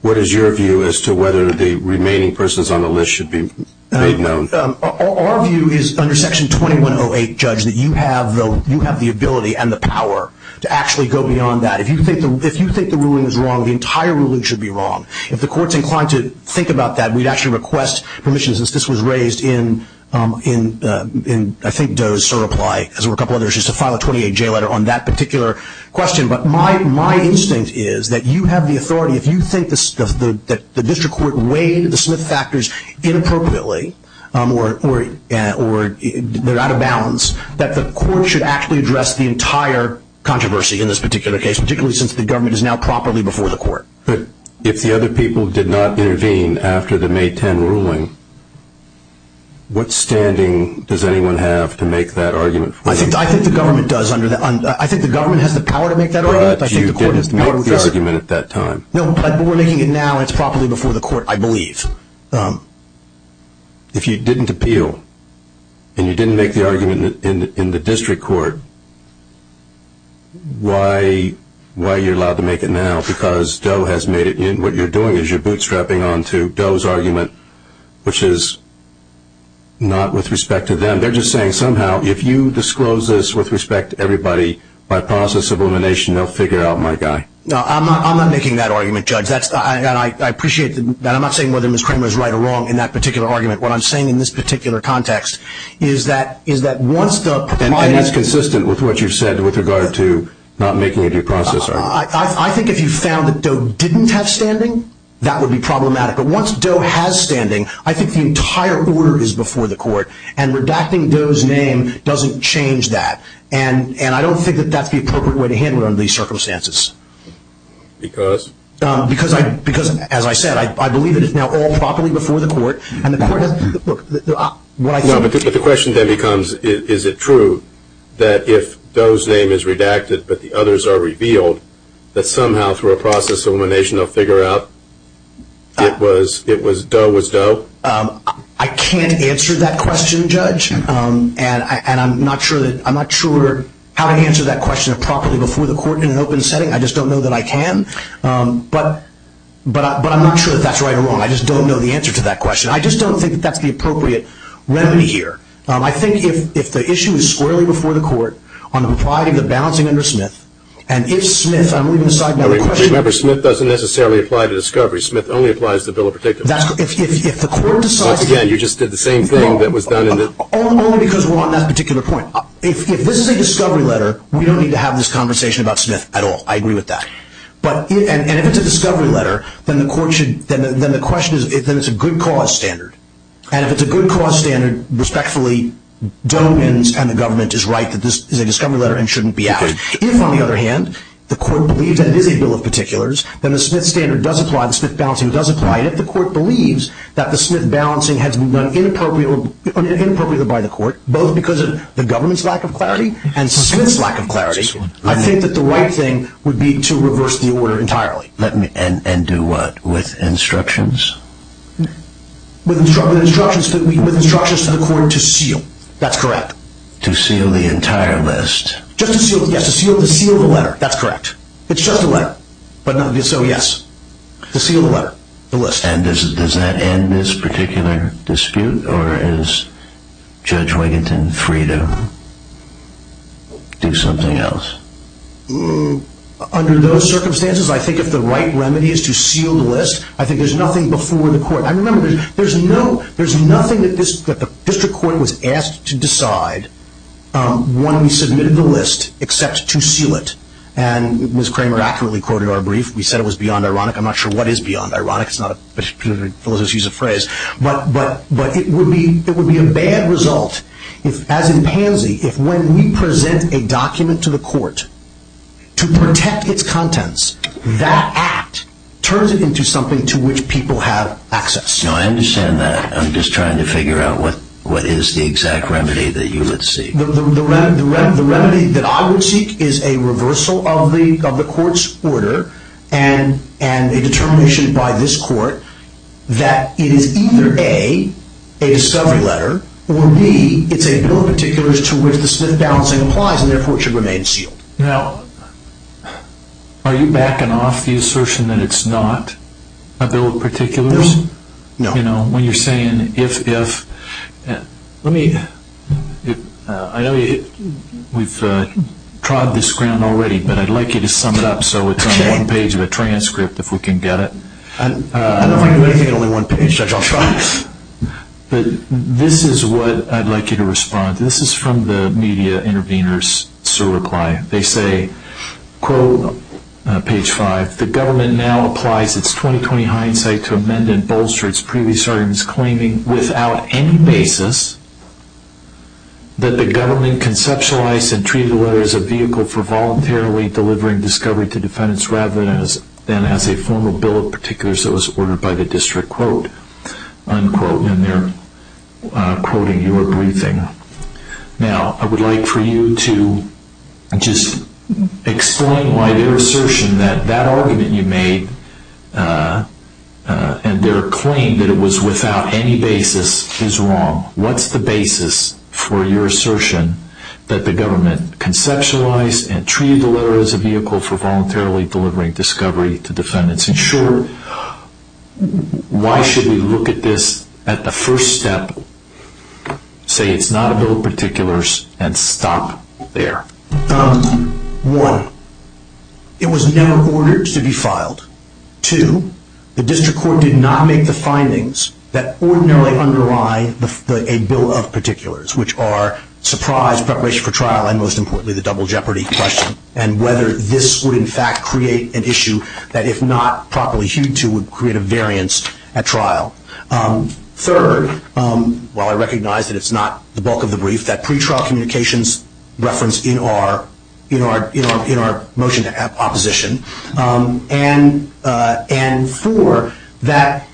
what is your view as to whether the remaining persons on the list should be made known? Our view is, under Section 2108, Judge, that you have the ability and the power to actually go beyond that. If you think the ruling is wrong, the entire ruling should be wrong. If the court's inclined to think about that, we'd actually request permissions. This was raised in, I think, Doe's reply, as were a couple of other issues, so file a 28-J letter on that particular question. But my instinct is that you have the authority. If you think that the district court weighed the Smith factors inappropriately or they're out of balance, that the court should actually address the entire controversy in this particular case, particularly since the government is now properly before the court. But if the other people did not intervene after the May 10 ruling, what standing does anyone have to make that argument? I think the government does under that. I think the government has the power to make that argument. But you didn't make the argument at that time. No, but we're making it now. It's properly before the court, I believe. If you didn't appeal and you didn't make the argument in the district court, why are you allowed to make it now? Because Doe has made it in. What you're doing is you're bootstrapping onto Doe's argument, which is not with respect to them. They're just saying somehow if you disclose this with respect to everybody, by process of elimination, they'll figure out my guy. No, I'm not making that argument, Judge. I appreciate that. I'm not saying whether Ms. Kramer is right or wrong in that particular argument. What I'm saying in this particular context is that once the- And that's consistent with what you've said with regard to not making a due process argument. I think if you found that Doe didn't have standing, that would be problematic. But once Doe has standing, I think the entire order is before the court, and redacting Doe's name doesn't change that. And I don't think that that's the appropriate way to handle it under these circumstances. Because? Because, as I said, I believe it is now all properly before the court, and the question then becomes is it true that if Doe's name is redacted but the others are revealed, that somehow through a process of elimination they'll figure out Doe was Doe? I can't answer that question, Judge, and I'm not sure how to answer that question properly before the court in an open setting. I just don't know that I can. I just don't know the answer to that question. I just don't think that that's the appropriate remedy here. I think if the issue is squarely before the court on the proprieties of balancing under Smith, and if Smith- Remember, Smith doesn't necessarily apply to discovery. Smith only applies to the bill in particular. If the court decides- Once again, you just did the same thing that was done in the- Only because we're on that particular point. If this is a discovery letter, we don't need to have this conversation about Smith at all. I agree with that. If it's a discovery letter, then the question is if it's a good cause standard. If it's a good cause standard, respectfully, Doe and this kind of government is right that this is a discovery letter and shouldn't be added. If, on the other hand, the court believes that it is a bill of particulars, then the Smith standard does apply, the Smith balancing does apply, and if the court believes that the Smith balancing has been done inappropriately by the court, both because of the government's lack of clarity and Smith's lack of clarity, I think that the right thing would be to reverse the order entirely. And do what? With instructions? With instructions for the court to seal. That's correct. To seal the entire list. Just to seal the letter. That's correct. It's just a letter. So, yes. To seal the letter. And does that end this particular dispute? Or is Judge Wigginton free to do something else? Under those circumstances, I think if the right remedy is to seal the list, I think there's nothing before the court. There's nothing that the district court was asked to decide when we submitted the list except to seal it. And Ms. Kramer accurately quoted our brief. We said it was beyond ironic. I'm not sure what is beyond ironic. It's not a specific philosophical use of phrase. But it would be a bad result, as in pansy, if when we present a document to the court to protect its contents, that act turns it into something to which people have access. I understand that. I'm just trying to figure out what is the exact remedy that you would seek. The remedy that I would seek is a reversal of the court's order and a determination by this court that it is either A, a summary letter, or B, it's a bill of particulars to which the slip balancing applies and therefore should remain sealed. Now, are you backing off the assertion that it's not a bill of particulars? No. When you're saying if, if, let me, I know we've trod this ground already, but I'd like you to sum it up so it's on one page of the transcript if we can get it. I don't want to make it only one page. But this is what I'd like you to respond to. This is from the media intervener's reply. They say, quote, page five, that the government now applies its 20-20 hindsight to amend and bolster its previous arguments claiming without any basis that the government conceptualized and treated the letter as a vehicle for voluntarily delivering discovery to defendants rather than as a formal bill of particulars that was ordered by the district, quote, unquote. And they're quoting your briefing. Now, I would like for you to just explain why their assertion that that argument you made and their claim that it was without any basis is wrong. What's the basis for your assertion that the government conceptualized and treated the letter as a vehicle for voluntarily delivering discovery to defendants? In short, why should we look at this at the first step, say it's not a bill of particulars, and stop there? One, it was never ordered to be filed. Two, the district court did not make the findings that ordinarily underline a bill of particulars, which are surprise, preparation for trial, and most importantly, the double jeopardy question, and whether this would in fact create an issue that, if not properly hewed to, would create a variance at trial. Third, while I recognize that it's not the bulk of the brief, that pretrial communications reference in our motion to have opposition. And four, that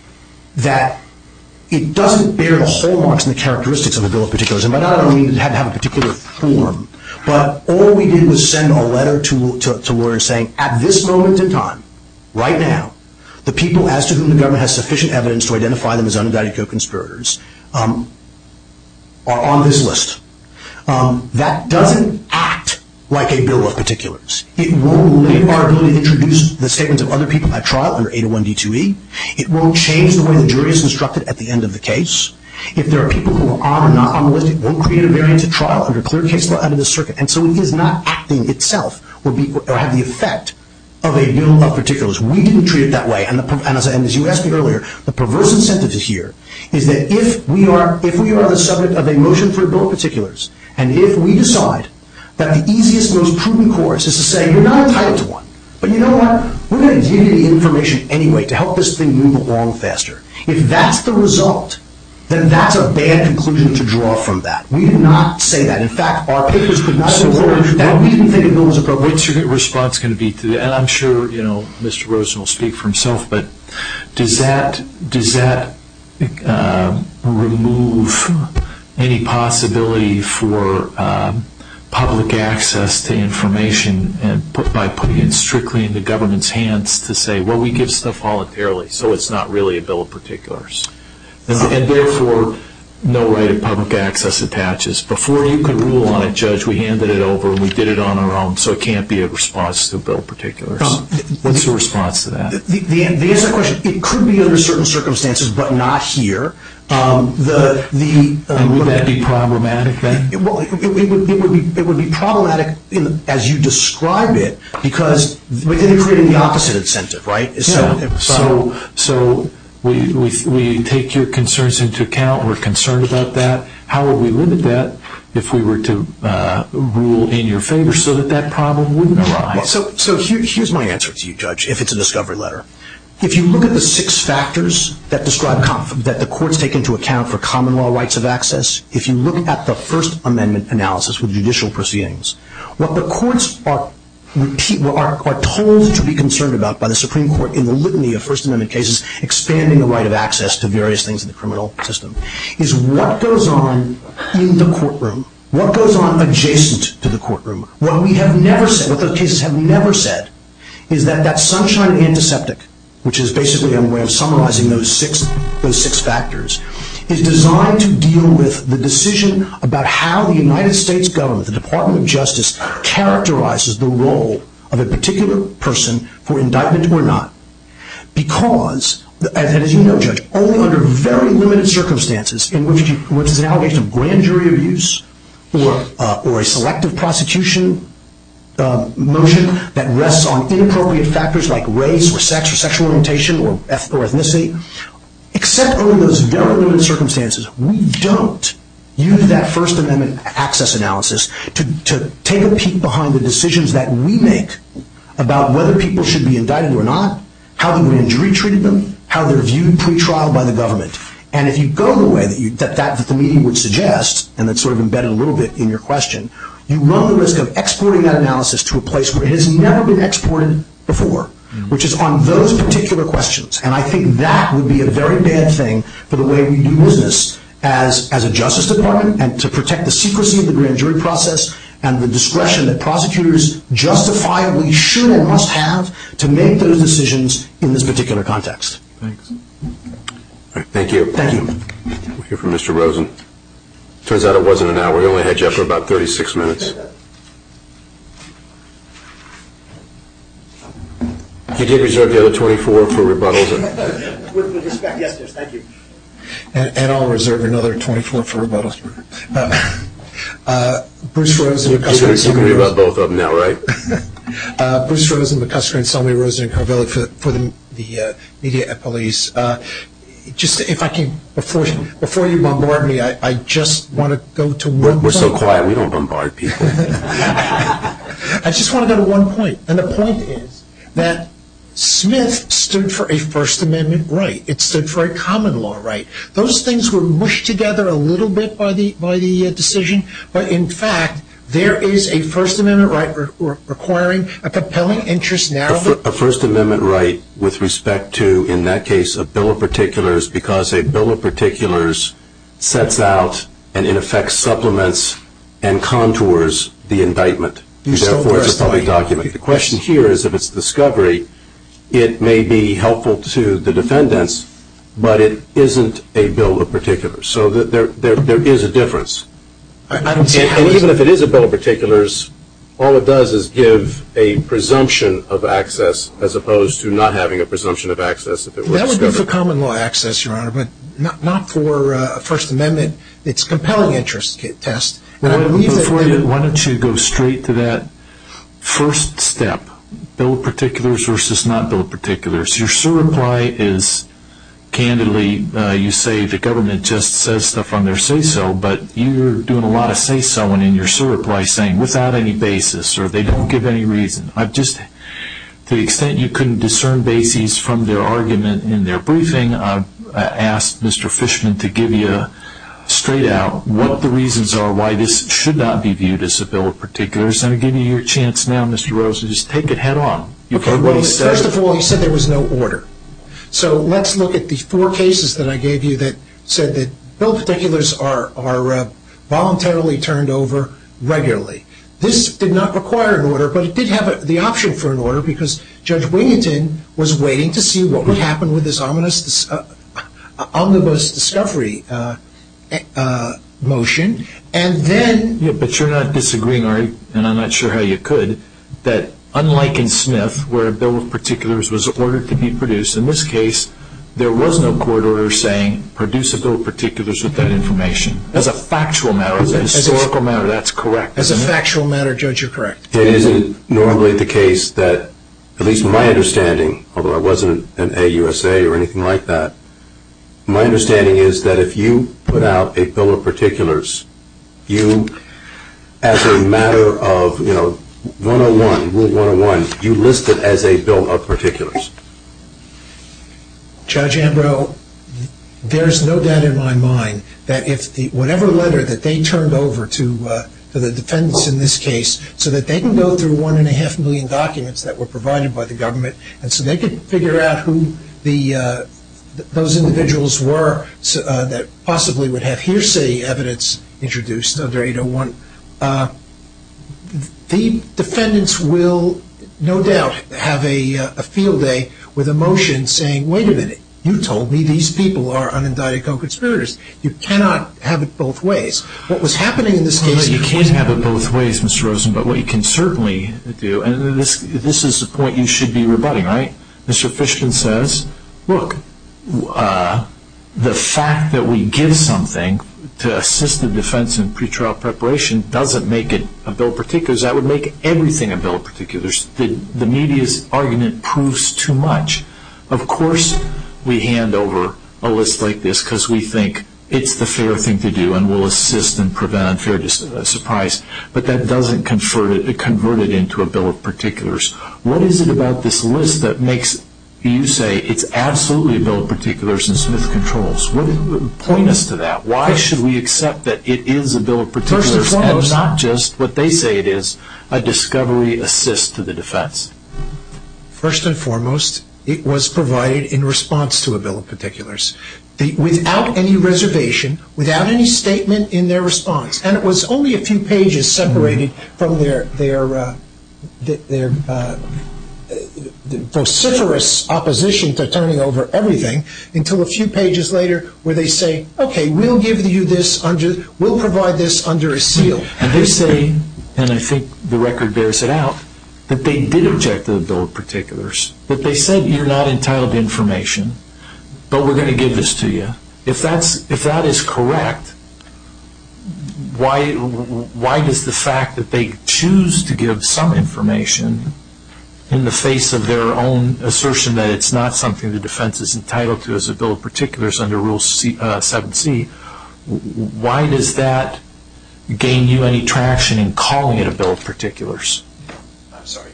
it doesn't bear so much in the characteristics of a bill of particulars, and by that I don't mean it had to have a particular form, but all we did was send a letter to lawyers saying, at this moment in time, right now, the people as to whom the government has sufficient evidence to identify them as undetected co-conspirators are on this list. That doesn't act like a bill of particulars. It won't limit our ability to introduce the statements of other people at trial under 801 D2E. It won't change the way the jury is instructed at the end of the case. If there are people who are or are not on the list, it won't create a variance at trial, it will clear the case for under the circuit. And so it is not acting itself or have the effect of a bill of particulars. We didn't treat it that way, and as you asked me earlier, the perverse incentive this year is that if we are the subject of a motion for a bill of particulars, and if we decide that the easiest, most prudent course is to say, you're not entitled to one, but you know what, we're going to give you the information anyway to help this thing move along faster. If that's the result, then that's a bad conclusion to draw from that. We did not say that. In fact, our business was not aware of that. We didn't think it was appropriate. What's your response going to be to that? And I'm sure, you know, Mr. Rosen will speak for himself, but does that remove any possibility for public access to information by putting it strictly in the government's hands to say, well, we give stuff voluntarily, so it's not really a bill of particulars. And therefore, no right of public access attaches. Before you could rule on a judge, we handed it over and we did it on our own, so it can't be a response to a bill of particulars. What's your response to that? The answer to your question, it could be under certain circumstances but not here. Would that be problematic then? It would be problematic as you describe it because then you're creating the opposite incentive, right? So we take your concerns into account. We're concerned about that. How will we limit that if we were to rule in your favor so that that problem wouldn't arise? So here's my answer to you, Judge, if it's a discovery letter. If you look at the six factors that the courts take into account for common law rights of access, if you look at the First Amendment analysis with judicial proceedings, what the courts are told to be concerned about by the Supreme Court in the litany of First Amendment cases, expanding the right of access to various things in the criminal system, is what goes on in the courtroom, what goes on adjacent to the courtroom, what we have never said, what those cases have never said, is that that sunshine and antiseptic, which is basically a way of summarizing those six factors, is designed to deal with the decision about how the United States government, the Department of Justice, characterizes the role of a particular person for indictment or not. Because, as you know, Judge, only under very limited circumstances, in which there's an allegation of grand jury abuse or a selective prosecution motion that rests on inappropriate factors like race or sex or sexual orientation or ethnicity, except under those very limited circumstances, we don't use that First Amendment access analysis to take a peek behind the decisions that we make about whether people should be indicted or not, how the grand jury treated them, how they're viewed pre-trial by the government. And if you go the way that the meeting would suggest, and that's sort of embedded a little bit in your question, you run the risk of exporting that analysis to a place where it has never been exported before, which is on those particular questions. And I think that would be a very bad thing for the way we use this as a justice department and to protect the secrecy of the grand jury process and the discretion that prosecutors justify, we should or must have to make those decisions in this particular context. Thank you. Thank you. Thank you for Mr. Rosen. Turns out it wasn't an hour. We only had you for about 36 minutes. Did you reserve the other 24 for rebuttals? Yes, thank you. And I'll reserve another 24 for rebuttals. Bruce Rosen. You're going to hear about both of them now, right? Bruce Rosen, McCusker and Selmy Rosen, Carville for the media police. Just if I can, before you bombard me, I just want to go to one point. We're so quiet, we don't bombard people. I just want to go to one point, and the point is that Smith stood for a First Amendment right. It stood for a common law right. Those things were mushed together a little bit by the decision, but in fact there is a First Amendment right requiring a compelling interest narrative. There is a First Amendment right with respect to, in that case, a bill of particulars because a bill of particulars sets out and, in effect, supplements and contours the indictment. The question here is if it's a discovery, it may be helpful to the defendants, but it isn't a bill of particulars, so there is a difference. Even if it is a bill of particulars, all it does is give a presumption of access as opposed to not having a presumption of access. That would be for common law access, Your Honor, but not for a First Amendment. It's a compelling interest test. Why don't you go straight to that first step, bill of particulars versus not bill of particulars. Your certify is, candidly, you say the government just says stuff on their say-so, but you're doing a lot of say-so-ing in your certify saying, without any basis or they don't give any reason. To the extent you couldn't discern basis from their argument in their briefing, I ask Mr. Fishman to give you straight out what the reasons are why this should not be viewed as a bill of particulars. I'm going to give you your chance now, Mr. Rose, to just take it head on. First of all, he said there was no order. So let's look at the four cases that I gave you that said that bill of particulars are voluntarily turned over regularly. This did not require an order, but it did have the option for an order because Judge Willington was waiting to see what would happen with this omnibus discovery motion, and then... But you're not disagreeing, are you? And I'm not sure how you could, that unlike in SNF, where bill of particulars was ordered to be produced, in this case, there was no court order saying produce a bill of particulars with that information. As a factual matter. As a historical matter, that's correct. As a factual matter, Judge, you're correct. It isn't normally the case that, at least in my understanding, although I wasn't an AUSA or anything like that, my understanding is that if you put out a bill of particulars, you, as a matter of, you know, 101, rule 101, you list it as a bill of particulars. Judge Ambrose, there is no doubt in my mind that if whatever letter that they turned over to the defendants in this case, so that they can go through one and a half million documents that were provided by the government, and so they could figure out who those individuals were that possibly would have hearsay evidence introduced under 801, the defendants will, no doubt, have a field day with a motion saying, wait a minute, you told me these people are undiagnosed conspirators. You cannot have it both ways. What was happening in this case. You can't have it both ways, Mr. Rosen, but what you can certainly do, and this is the point you should be rebutting, right? Mr. Fishkin says, look, the fact that we give something to assist the defense in pretrial preparation doesn't make it a bill of particulars. That would make everything a bill of particulars. The media's argument proves too much. Of course we hand over a list like this because we think it's the fair thing to do and we'll assist and prevent unfair surprise, but that doesn't convert it into a bill of particulars. What is it about this list that makes you say it's absolutely a bill of particulars and Smith controls? What is the point to that? Why should we accept that it is a bill of particulars and not just what they say it is, a discovery assist to the defense? First and foremost, it was provided in response to a bill of particulars. Without any reservation, without any statement in their response, and it was only a few pages separated from their vociferous opposition to turning over everything until a few pages later where they say, okay, we'll provide this under a seal. They say, and I think the record bears it out, that they did object to the bill of particulars, that they said you're not entitled to information, but we're going to give this to you. If that is correct, why does the fact that they choose to give some information in the face of their own assertion that it's not something the defense is entitled to as a bill of particulars under Rule 7c, why does that gain you any traction in calling it a bill of particulars? I'm sorry.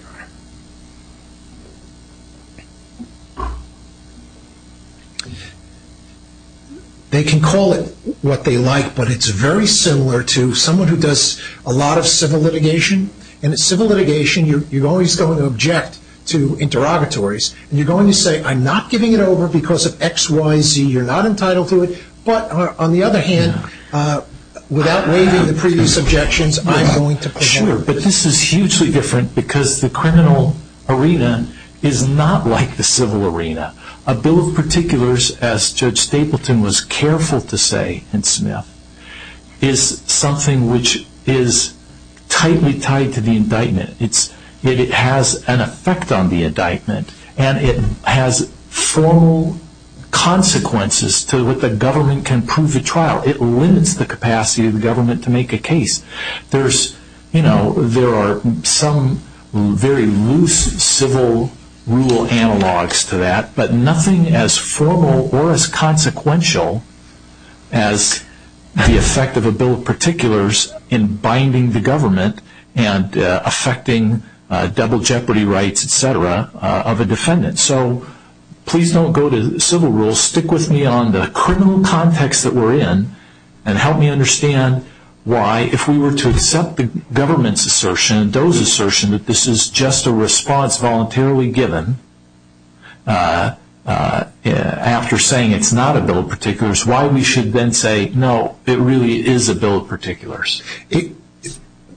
They can call it what they like, but it's very similar to someone who does a lot of civil litigation, and in civil litigation you're always going to object to interrogatories, and you're going to say I'm not giving it over because of X, Y, Z, you're not entitled to it, but on the other hand, without weighing the previous objections, I'm going to present it. Sure, but this is hugely different because the criminal arena is not like the civil arena. A bill of particulars, as Judge Stapleton was careful to say in Smith, is something which is tightly tied to the indictment. It has an effect on the indictment, and it has formal consequences to what the government can prove at trial. It limits the capacity of the government to make a case. There are some very loose civil rule analogs to that, but nothing as formal or as consequential as the effect of a bill of particulars in binding the government and affecting double jeopardy rights, et cetera, of a defendant. So please don't go to civil rules. Stick with me on the criminal context that we're in, and help me understand why if we were to accept the government's assertion and those assertions that this is just a response voluntarily given after saying it's not a bill of particulars, why we should then say no, it really is a bill of particulars.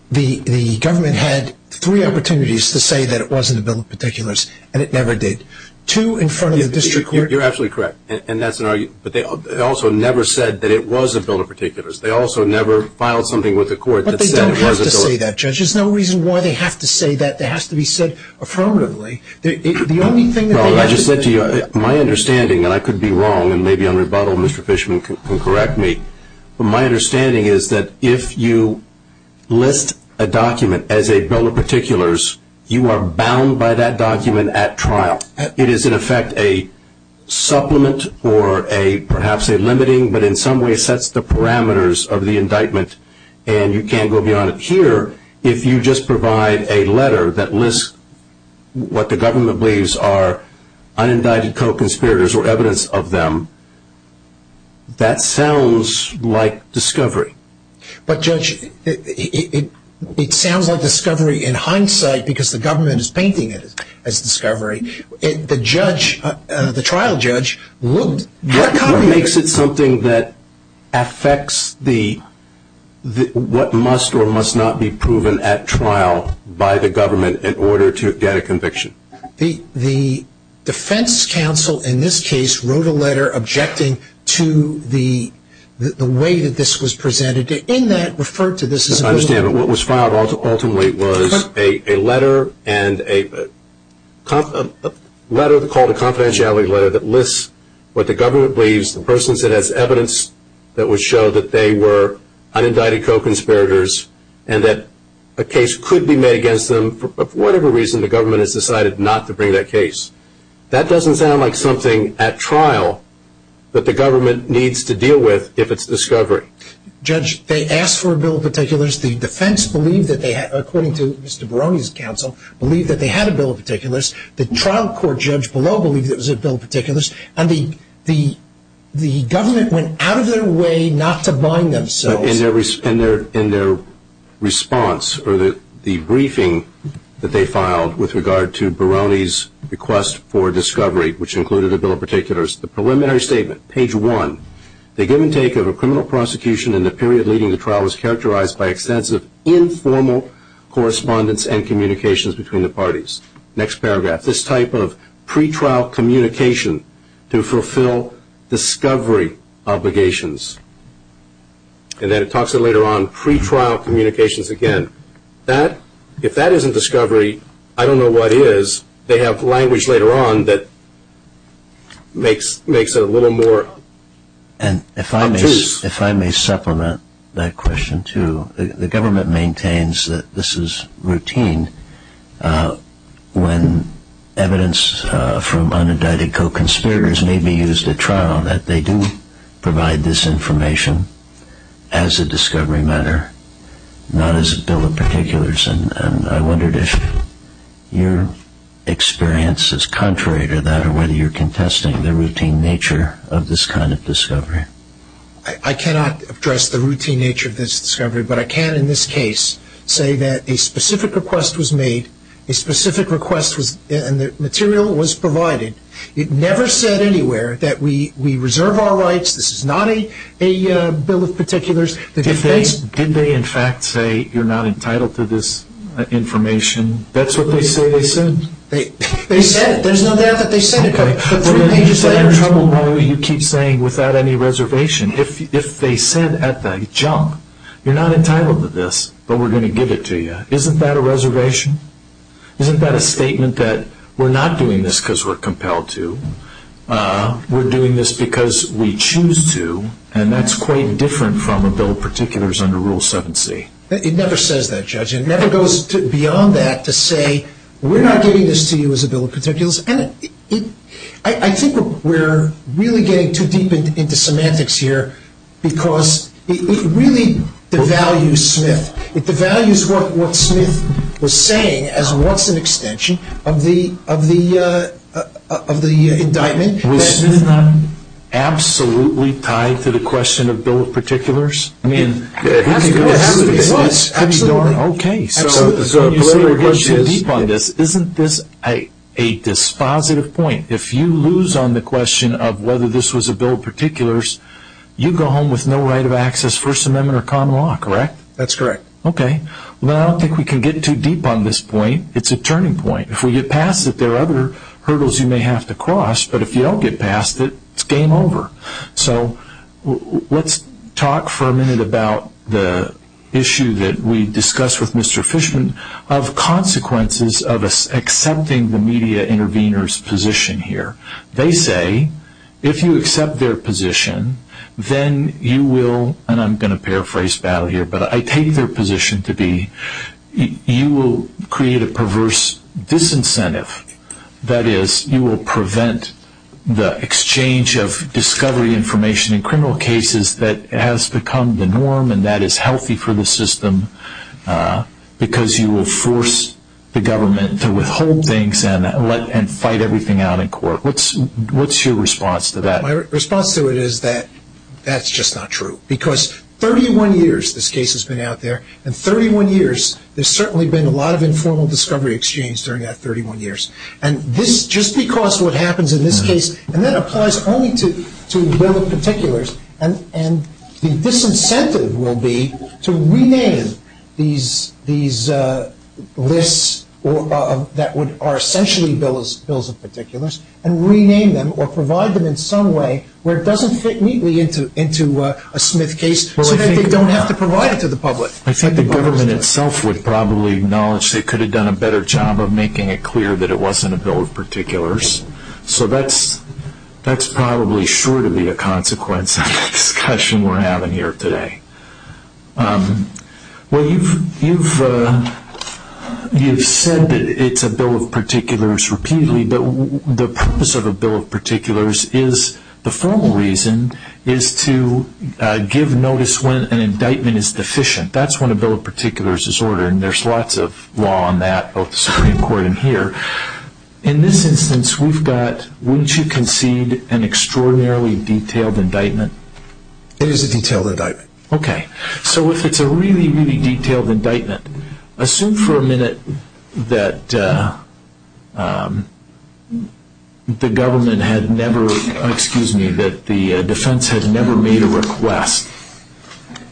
The government had three opportunities to say that it wasn't a bill of particulars, and it never did. You're absolutely correct, and that's an argument. But they also never said that it was a bill of particulars. They also never filed something with the court that said it was a bill of particulars. But they don't have to say that, Judge. There's no reason why they have to say that. It has to be said affirmatively. The only thing that they have to say is that it's a bill of particulars. My understanding, and I could be wrong, and maybe I'm rebuttal, and Mr. Fishman can correct me. My understanding is that if you list a document as a bill of particulars, you are bound by that document at trial. It is, in effect, a supplement or perhaps a limiting, but in some way sets the parameters of the indictment, and you can't go beyond it. Here, if you just provide a letter that lists what the government believes are unindicted co-conspirators or evidence of them, that sounds like discovery. But, Judge, it sounds like discovery in hindsight because the government is painting it as discovery. The judge, the trial judge, will have to make it. What makes it something that affects what must or must not be proven at trial by the government in order to get a conviction? The defense counsel in this case wrote a letter objecting to the way that this was presented. In that, it referred to this as a bill of particulars. My understanding, what was filed ultimately was a letter called a confidentiality letter that lists what the government believes, the persons that have evidence that would show that they were unindicted co-conspirators and that a case could be made against them for whatever reason the government has decided not to bring that case. That doesn't sound like something at trial that the government needs to deal with if it's discovery. Judge, they asked for a bill of particulars. The defense, according to Mr. Barone's counsel, believed that they had a bill of particulars. The trial court judge below believed it was a bill of particulars, and the government went out of their way not to bind themselves. In their response or the briefing that they filed with regard to Barone's request for discovery, which included a bill of particulars, the preliminary statement, page one, they give and take of a criminal prosecution in the period leading to trial is characterized by extensive informal correspondence and communications between the parties. Next paragraph. This type of pretrial communication to fulfill discovery obligations, and then it talks of later on pretrial communications again. If that isn't discovery, I don't know what is. They have language later on that makes it a little more obtuse. If I may supplement that question, too, the government maintains that this is routine when evidence from uninvited co-conspirators may be used at trial, that they do provide this information as a discovery matter, not as a bill of particulars, and I wondered if your experience is contrary to that I cannot address the routine nature of this discovery, but I can in this case say that a specific request was made, a specific material was provided. It never said anywhere that we reserve our rights, this is not a bill of particulars. Did they in fact say you're not entitled to this information? That's what they said. They said it. There's no doubt that they said it. Let me just say I'm troubled why you keep saying without any reservation. If they said at the jump, you're not entitled to this, but we're going to give it to you, isn't that a reservation? Isn't that a statement that we're not doing this because we're compelled to, we're doing this because we choose to, and that's quite different from a bill of particulars under Rule 7c? It never says that, Judge. It never goes beyond that to say we're not giving this to you as a bill of particulars, and I think we're really getting too deep into semantics here because it really devalues Smith. It devalues what Smith was saying as an extension of the indictment. Absolutely tied to the question of bill of particulars. Absolutely. Okay. The other question is isn't this a dispositive point? If you lose on the question of whether this was a bill of particulars, you go home with no right of access, First Amendment, or common law, correct? That's correct. Okay. Well, I don't think we can get too deep on this point. It's a turning point. If we get past it, there are other hurdles you may have to cross, but if you don't get past it, it's game over. So let's talk for a minute about the issue that we discussed with Mr. Fishman of consequences of accepting the media intervener's position here. They say if you accept their position, then you will, and I'm going to paraphrase Battle here, but I take their position to be you will create a perverse disincentive. That is, you will prevent the exchange of discovery information in criminal cases that has become the norm and that is healthy for the system because you will force the government to withhold things and fight everything out in court. What's your response to that? My response to it is that that's just not true because 31 years this case has been out there, and 31 years there's certainly been a lot of informal discovery exchange during that 31 years, and just because what happens in this case, and that applies only to bill of particulars, and the disincentive will be to rename these lists that are essentially bills of particulars and rename them or provide them in some way where it doesn't fit neatly into a Smith case so that they don't have to provide it to the public. I think the government itself would probably acknowledge they could have done a better job of making it clear that it wasn't a bill of particulars, so that's probably sure to be a consequence of the discussion we're having here today. Well, you've said that it's a bill of particulars repeatedly, but the purpose of a bill of particulars is, the formal reason, is to give notice when an indictment is deficient. That's when a bill of particulars is ordered, and there's lots of law on that of the Supreme Court in here. In this instance, we've got, wouldn't you concede, an extraordinarily detailed indictment? It is a detailed indictment. Okay. So it's a really, really detailed indictment. Assume for a minute that the government had never, excuse me, that the defense had never made a request,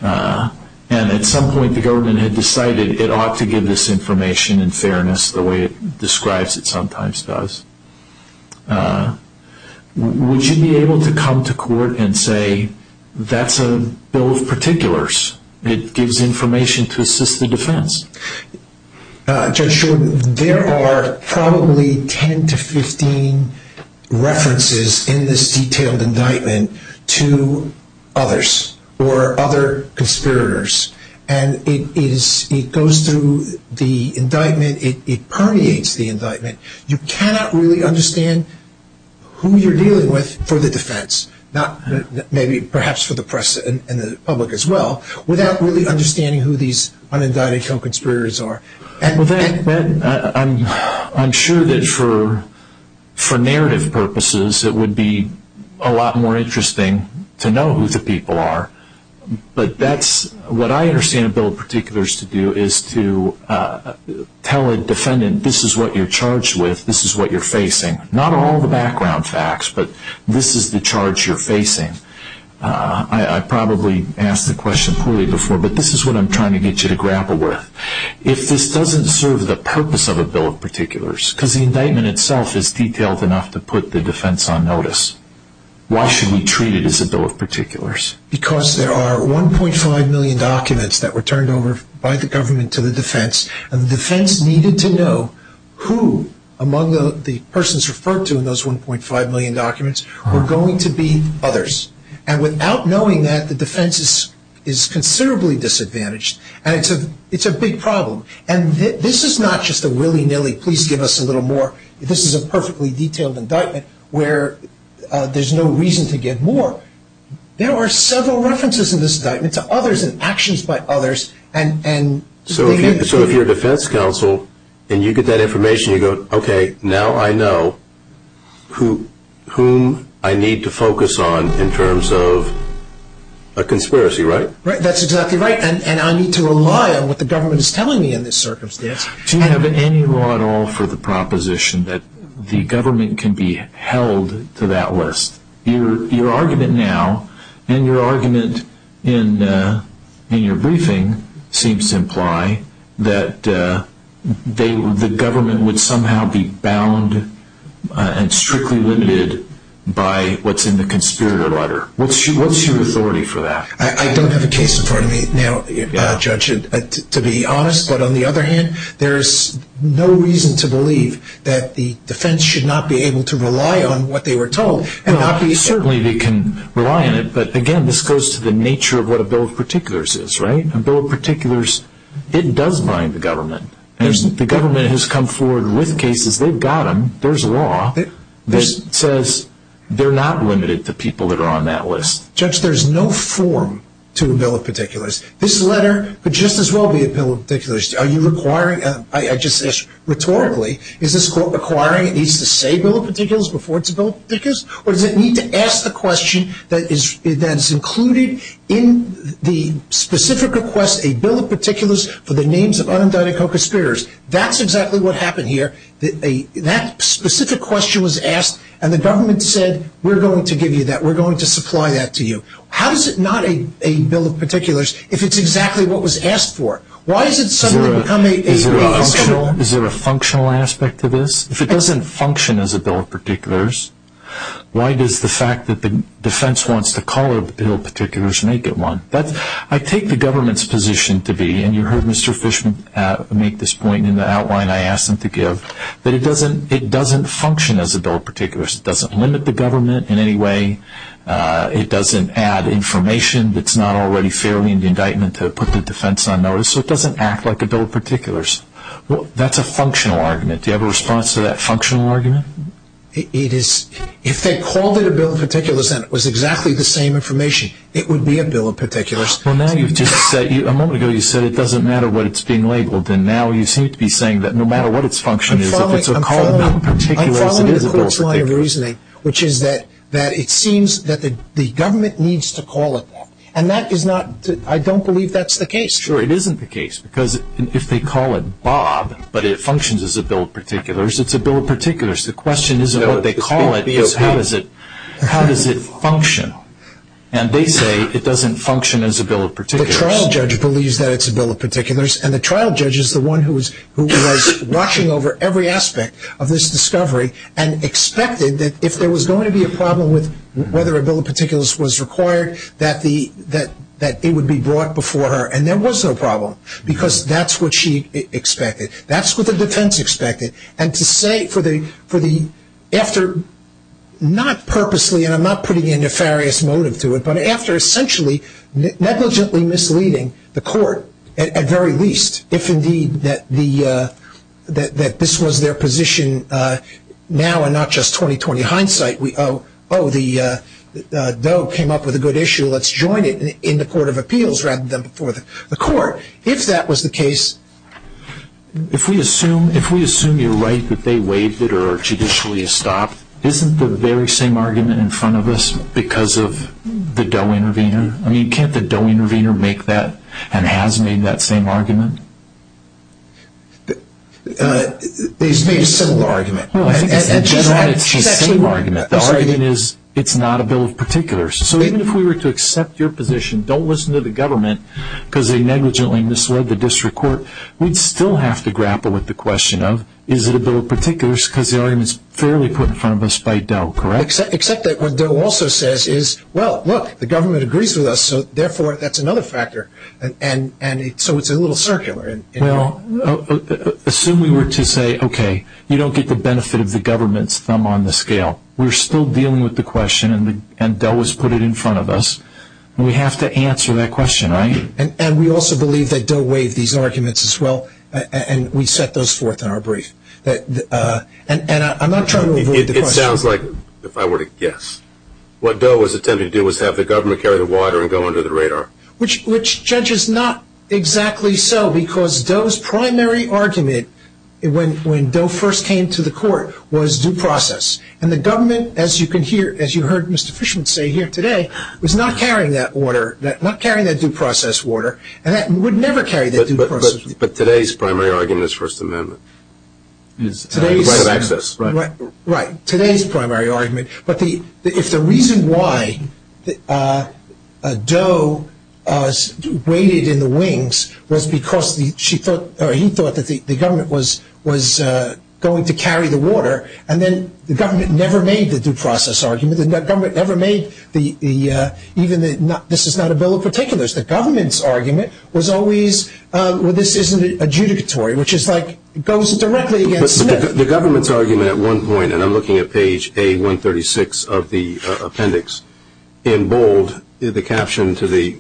and at some point the government had decided it ought to give this information in fairness the way it describes it sometimes does. Would you be able to come to court and say that's a bill of particulars? It gives information to assist the defense. Judge Shulman, there are probably 10 to 15 references in this detailed indictment to others or other conspirators, and it goes through the indictment, it permeates the indictment. You cannot really understand who you're dealing with for the defense, maybe perhaps for the press and the public as well, without really understanding who these unindicted conspirators are. I'm sure that for narrative purposes it would be a lot more interesting to know who the people are, but what I understand a bill of particulars to do is to tell a defendant this is what you're charged with, this is what you're facing. Not all the background facts, but this is the charge you're facing. I probably asked the question poorly before, but this is what I'm trying to get you to grapple with. If this doesn't serve the purpose of a bill of particulars, because the indictment itself is detailed enough to put the defense on notice, why should we treat it as a bill of particulars? Because there are 1.5 million documents that were turned over by the government to the defense, and the defense needed to know who among the persons referred to in those 1.5 million documents were going to be others. And without knowing that, the defense is considerably disadvantaged, and it's a big problem. And this is not just a willy-nilly, please give us a little more. This is a perfectly detailed indictment where there's no reason to get more. So there are several references in this indictment to others and actions by others. So if you're a defense counsel and you get that information, you go, okay, now I know whom I need to focus on in terms of a conspiracy, right? Right, that's exactly right, and I need to rely on what the government is telling me in this circumstance. Do you have any law at all for the proposition that the government can be held to that list? Your argument now and your argument in your briefing seems to imply that the government would somehow be bound and strictly limited by what's in the conspirator letter. What's your authority for that? I don't have a case in front of me now, Judge, to be honest. But on the other hand, there's no reason to believe that the defense should not be able to rely on what they were told. Certainly they can rely on it, but, again, this goes to the nature of what a bill of particulars is, right? A bill of particulars, it does bind the government. The government has come forward with cases. They've got them. There's law that says they're not limited to people that are on that list. Judge, there's no form to a bill of particulars. This letter would just as well be a bill of particulars. Are you requiring? Rhetorically, is this court requiring it needs to say bill of particulars before it's billed particulars? Or does it need to ask the question that is included in the specific request, a bill of particulars for the names of undoubted co-conspirators? That's exactly what happened here. That specific question was asked, and the government said, we're going to give you that. We're going to supply that to you. How is it not a bill of particulars if it's exactly what was asked for? Is there a functional aspect to this? If it doesn't function as a bill of particulars, why does the fact that the defense wants to call it a bill of particulars make it one? But I take the government's position to be, and you heard Mr. Fishman make this point in the outline I asked him to give, that it doesn't function as a bill of particulars. It doesn't limit the government in any way. It doesn't add information that's not already fairly in the indictment to put the defense on notice. So it doesn't act like a bill of particulars. That's a functional argument. Do you have a response to that functional argument? It is. If they called it a bill of particulars and it was exactly the same information, it would be a bill of particulars. A moment ago you said it doesn't matter what it's being labeled, and now you seem to be saying that no matter what it's function is, if it's a call of the particulars, it is a bill of particulars. I have a different line of reasoning, which is that it seems that the government needs to call it that, and I don't believe that's the case. Sure, it isn't the case, because if they call it Bob, but it functions as a bill of particulars, it's a bill of particulars. The question is how does it function? And they say it doesn't function as a bill of particulars. And the trial judge is the one who was watching over every aspect of this discovery and expected that if there was going to be a problem with whether a bill of particulars was required, that it would be brought before her. And there was no problem, because that's what she expected. That's what the defense expected. And to say for the after not purposely, and I'm not putting a nefarious motive to it, but after essentially negligently misleading the court, at very least, if indeed that this was their position now and not just 20-20 hindsight, oh, the bill came up with a good issue, let's join it in the court of appeals rather than the court, if that was the case. If we assume you're right that they waived it or judicially stopped, isn't the very same argument in front of us because of the DOE intervener? I mean, can't the DOE intervener make that and has made that same argument? It's the same argument. It's the same argument. The argument is it's not a bill of particulars. So even if we were to accept your position, don't listen to the government, because they negligently misled the district court, we'd still have to grapple with the question of, is it a bill of particulars because the argument is fairly put in front of us by DOE, correct? Except that what DOE also says is, well, look, the government agrees with us, so therefore that's another factor, and so it's a little circular. Well, assume we were to say, okay, you don't get the benefit of the government's thumb on the scale. We're still dealing with the question, and DOE has put it in front of us. We have to answer that question, right? And we also believe that DOE weighed these arguments as well, and we set those forth in our brief. And I'm not trying to avoid the question. It sounds like, if I were to guess, what DOE was attempting to do was have the government carry the water and go under the radar. Which, Judge, is not exactly so, because DOE's primary argument when DOE first came to the court was due process. And the government, as you can hear, as you heard Mr. Fishman say here today, was not carrying that order, not carrying that due process order, and would never carry that due process order. But today's primary argument is First Amendment. Right, today's primary argument. But if the reason why DOE waded in the wings was because he thought that the government was going to carry the water, and then the government never made the due process argument, and the government never made the, even the, this is not a bill of particulars. The government's argument was always, well, this isn't adjudicatory, which is like, goes directly against the bill. The government's argument at one point, and I'm looking at page A136 of the appendix, in bold, the caption to the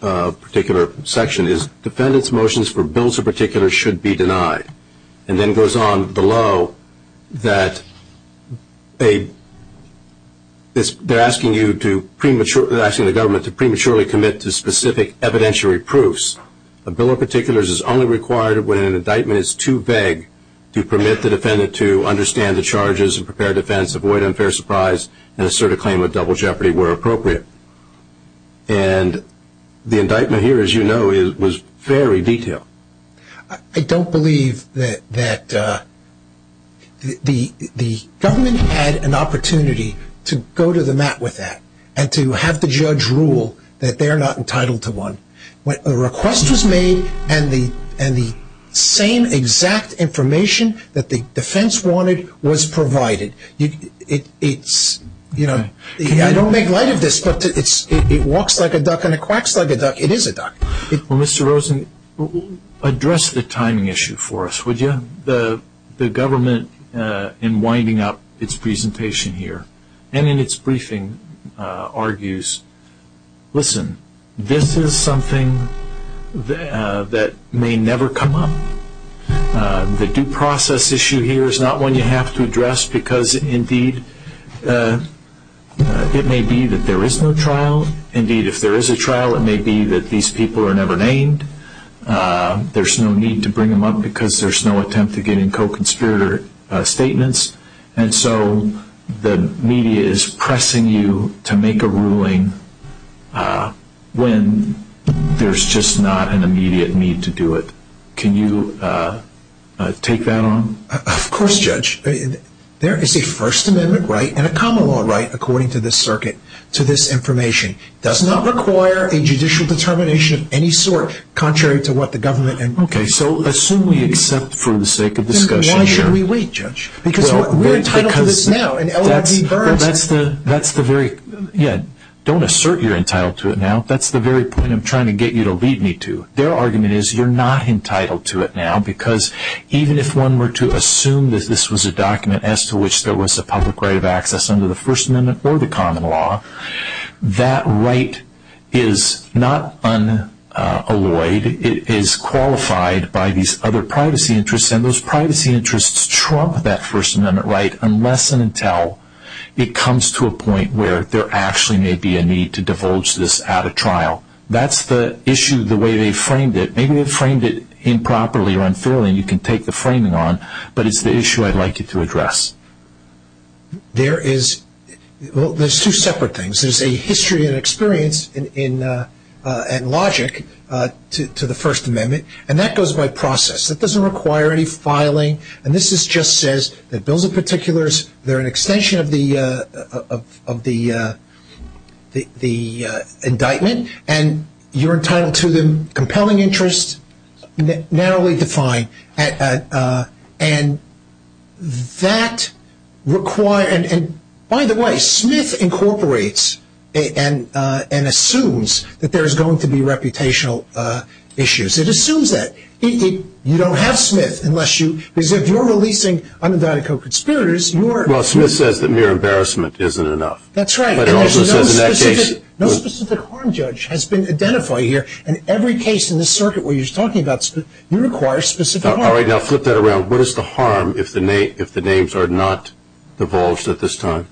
particular section is, defendant's motions for bills of particulars should be denied. And then it goes on below that they're asking you to prematurely, asking the government to prematurely commit to specific evidentiary proofs. A bill of particulars is only required when an indictment is too vague to permit the defendant to understand the charges, and prepare defense, avoid unfair surprise, and assert a claim of double jeopardy where appropriate. And the indictment here, as you know, was very detailed. I don't believe that the government had an opportunity to go to the mat with that, and to have the judge rule that they're not entitled to one. A request was made, and the same exact information that the defense wanted was provided. It's, you know, I don't make light of this, but it walks like a duck and it quacks like a duck. It is a duck. Well, Mr. Rosen, address the timing issue for us, would you? The government, in winding up its presentation here, and in its briefing, argues, listen, this is something that may never come up. The due process issue here is not one you have to address because, indeed, it may be that there is no trial. Indeed, if there is a trial, it may be that these people are never named. There's no need to bring them up because there's no attempt to get in co-conspirator statements. And so the media is pressing you to make a ruling when there's just not an immediate need to do it. Can you take that on? Of course, Judge. There is a First Amendment right and a common law right, according to this circuit, to this information. It does not require a judicial determination of any sort, contrary to what the government. Okay, so assume we accept for the sake of discussion here. We want you to relate, Judge. Because we're entitled to this now. Don't assert you're entitled to it now. That's the very point I'm trying to get you to lead me to. Their argument is you're not entitled to it now. Because even if one were to assume that this was a document as to which there was a public right of access under the First Amendment or the common law, that right is not unalloyed. It is qualified by these other privacy interests. And those privacy interests trump that First Amendment right unless and until it comes to a point where there actually may be a need to divulge this at a trial. That's the issue, the way they framed it. Maybe they framed it improperly or unfairly, and you can take the framing on, but it's the issue I'd like you to address. There is two separate things. There's a history and experience and logic to the First Amendment, and that goes by process. That doesn't require any filing. And this just says that those are particulars, they're an extension of the indictment, and you're entitled to them, compelling interest, narrowly defined. And that requires ñ and by the way, Smith incorporates and assumes that there is going to be reputational issues. It assumes that. You don't have Smith unless you ñ because if you're releasing unidentified co-conspirators, you're ñ Well, Smith says that mere embarrassment isn't enough. That's right. But it also says in that case ñ No specific harm judge has been identified here, and every case in this circuit where he's talking about, you require specific harm. All right, now flip that around. What is the harm if the names are not divulged at this time?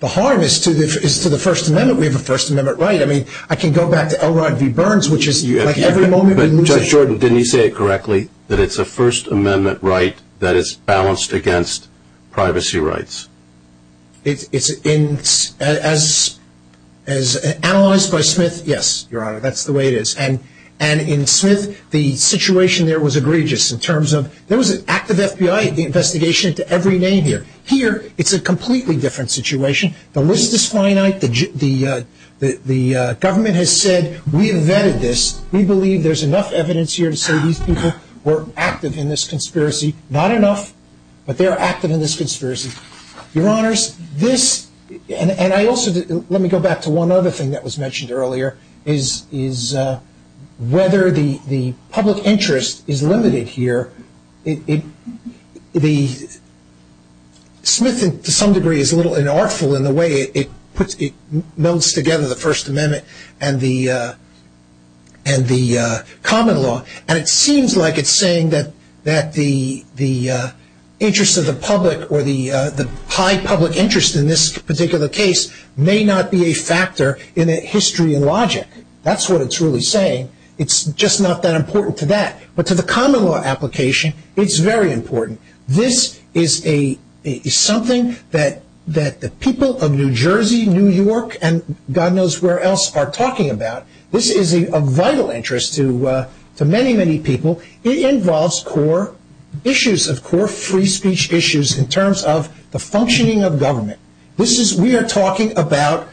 The harm is to the First Amendment. We have a First Amendment right. I mean, I can go back to Elrod v. Burns, which is ñ Judge Jordan, didn't he say it correctly, that it's a First Amendment right that is balanced against privacy rights? As analyzed by Smith, yes, Your Honor, that's the way it is. And in Smith, the situation there was egregious in terms of there was an active FBI investigation into every name here. Here, it's a completely different situation. The list is finite. The government has said we invented this. We believe there's enough evidence here to say these people were active in this conspiracy. Not enough, but they are active in this conspiracy. Your Honors, this ñ and I also ñ let me go back to one other thing that was mentioned earlier, is whether the public interest is limited here. The ñ Smith, to some degree, is a little inartful in the way it puts ñ it melds together the First Amendment and the common law. And it seems like it's saying that the interest of the public or the high public interest in this particular case may not be a factor in history and logic. That's what it's really saying. It's just not that important to that. But to the common law application, it's very important. This is a ñ it's something that the people of New Jersey, New York, and God knows where else are talking about. This is a vital interest to many, many people. It involves core issues of core free speech issues in terms of the functioning of government. This is ñ we are talking about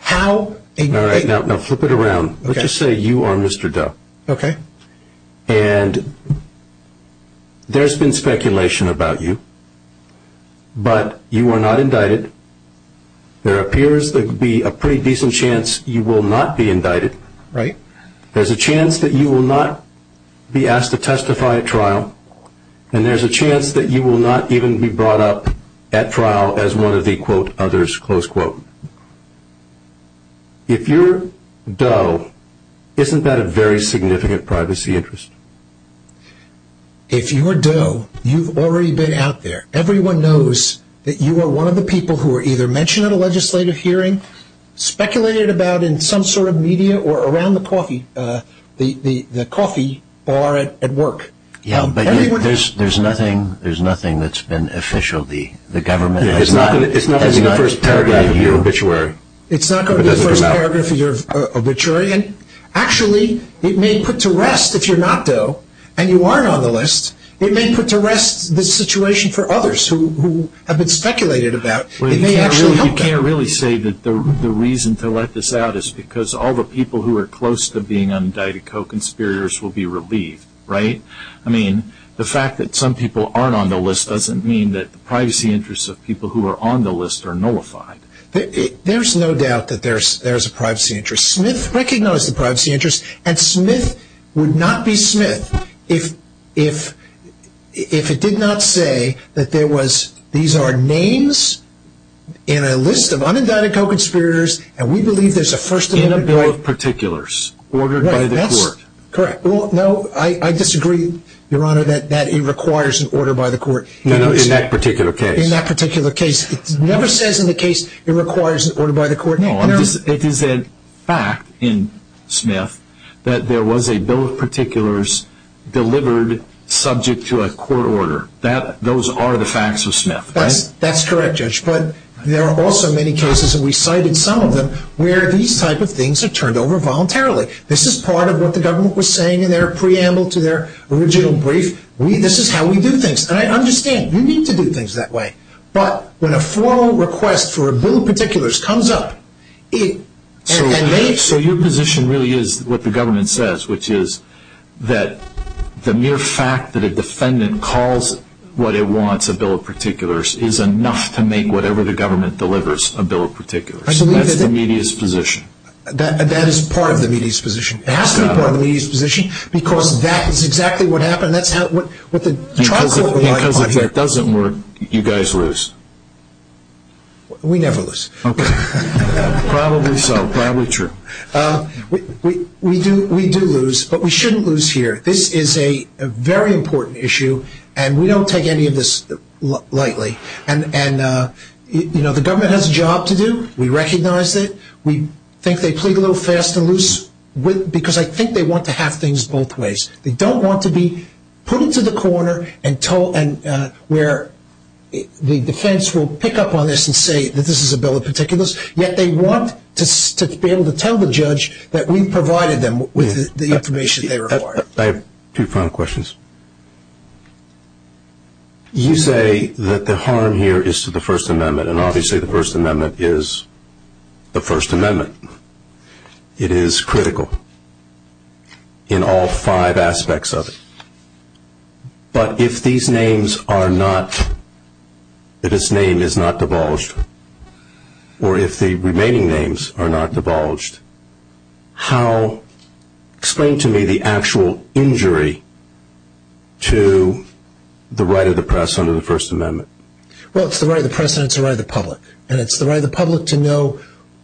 how a ñ All right, now flip it around. Let's just say you are Mr. Doe. Okay. And there's been speculation about you, but you are not indicted. There appears to be a pretty decent chance you will not be indicted. Right. There's a chance that you will not be asked to testify at trial. And there's a chance that you will not even be brought up at trial as one of the, quote, others, close quote. If you're Doe, isn't that a very significant privacy interest? If you are Doe, you've already been out there. Everyone knows that you are one of the people who were either mentioned at a legislative hearing, speculated about in some sort of media, or around the coffee bar at work. Yeah, but there's nothing that's been official. It's not in the first paragraph of your obituary. It's not in the first paragraph of your obituary. Actually, it may put to rest, if you're not Doe, and you aren't on the list, it may put to rest the situation for others who have been speculated about. It may actually help them. You can't really say that the reason to let this out is because all the people who are close to being indicted co-conspirators will be relieved. Right? I mean, the fact that some people aren't on the list doesn't mean that the privacy interests of people who are on the list are nullified. There's no doubt that there's a privacy interest. Smith recognized the privacy interest, and Smith would not be Smith if it did not say that there was, these are names in a list of unindicted co-conspirators, and we believe there's a first- Correct. No, I disagree, Your Honor, that it requires an order by the court. In that particular case. In that particular case. It never says in the case it requires an order by the court. It is a fact in Smith that there was a bill of particulars delivered subject to a court order. Those are the facts of Smith, right? That's correct, Judge, but there are also many cases, and we cited some of them, where these type of things are turned over voluntarily. This is part of what the government was saying in their preamble to their original brief. This is how we do things, and I understand. You need to do things that way. But when a formal request for a bill of particulars comes up, it- So your position really is what the government says, which is that the mere fact that a defendant calls what it wants, a bill of particulars, is enough to make whatever the government delivers a bill of particulars. I believe that- That's the media's position. That is part of the media's position. It has to be part of the media's position because that is exactly what happened. That's how- If that doesn't work, you guys lose. We never lose. Okay. Probably so. Probably true. We do lose, but we shouldn't lose here. This is a very important issue, and we don't take any of this lightly. And, you know, the government has a job to do. We recognize that. We think they plead a little fast and loose because I think they want to have things both ways. They don't want to be put into the corner where the defense will pick up on this and say that this is a bill of particulars, yet they want to be able to tell the judge that we provided them with the information they require. I have two final questions. You say that the harm here is to the First Amendment, and obviously the First Amendment is the First Amendment. It is critical in all five aspects of it. But if these names are not-if this name is not divulged, or if the remaining names are not divulged, how-explain to me the actual injury to the right of the press under the First Amendment. Well, it's the right of the press, and it's the right of the public. And it's the right of the public to know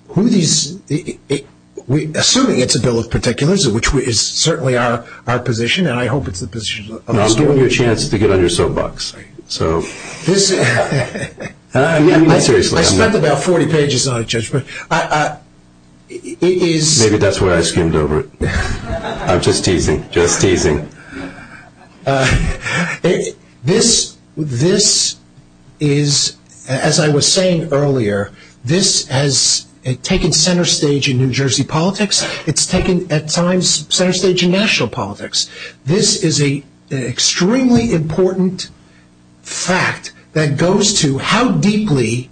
who these-assuming it's a bill of particulars, which is certainly our position, and I hope it's the position of the state. I'm giving you a chance to get on your soapbox. So- I spent about 40 pages on it, Judge. Maybe that's why I skimmed over it. I'm just teasing, just teasing. This is, as I was saying earlier, this has taken center stage in New Jersey politics. It's taken, at times, center stage in national politics. This is an extremely important fact that goes to how deeply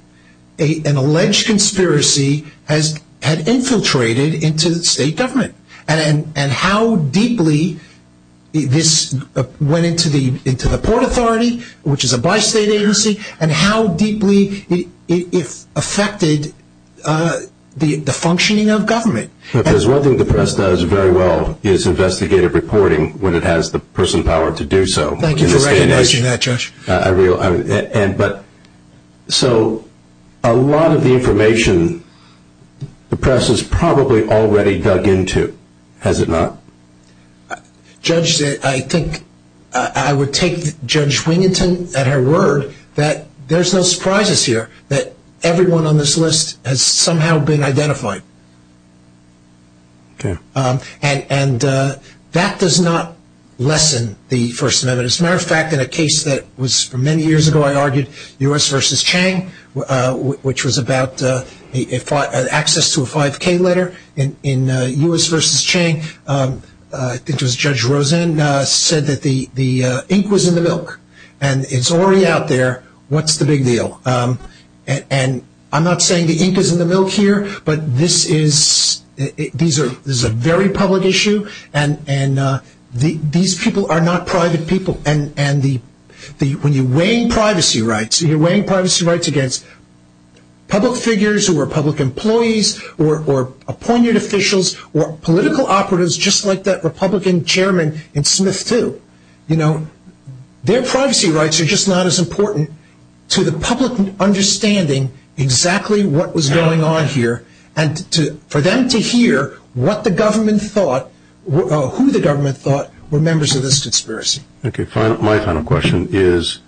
an alleged conspiracy has infiltrated into state government and how deeply this went into the Port Authority, which is a bi-state agency, and how deeply it affected the functioning of government. Because one thing the press does very well is investigative reporting when it has the personal power to do so. Thank you for recognizing that, Judge. So a lot of the information the press has probably already dug into, has it not? Judge, I think I would take Judge Wiginton at her word that there's no surprises here that everyone on this list has somehow been identified. And that does not lessen the First Amendment. But as a matter of fact, in a case that was many years ago, I argued, U.S. v. Chang, which was about access to a 5K letter in U.S. v. Chang, I think it was Judge Rosen said that the ink was in the milk, and it's already out there. What's the big deal? And I'm not saying the ink is in the milk here, but this is a very public issue, and these people are not private people. And when you're weighing privacy rights, and you're weighing privacy rights against public figures or public employees or appointed officials or political operatives just like that Republican chairman in Smith too, their privacy rights are just not as important to the public understanding exactly what was going on here, and for them to hear what the government thought or who the government thought were members of this conspiracy. Okay, my final question is,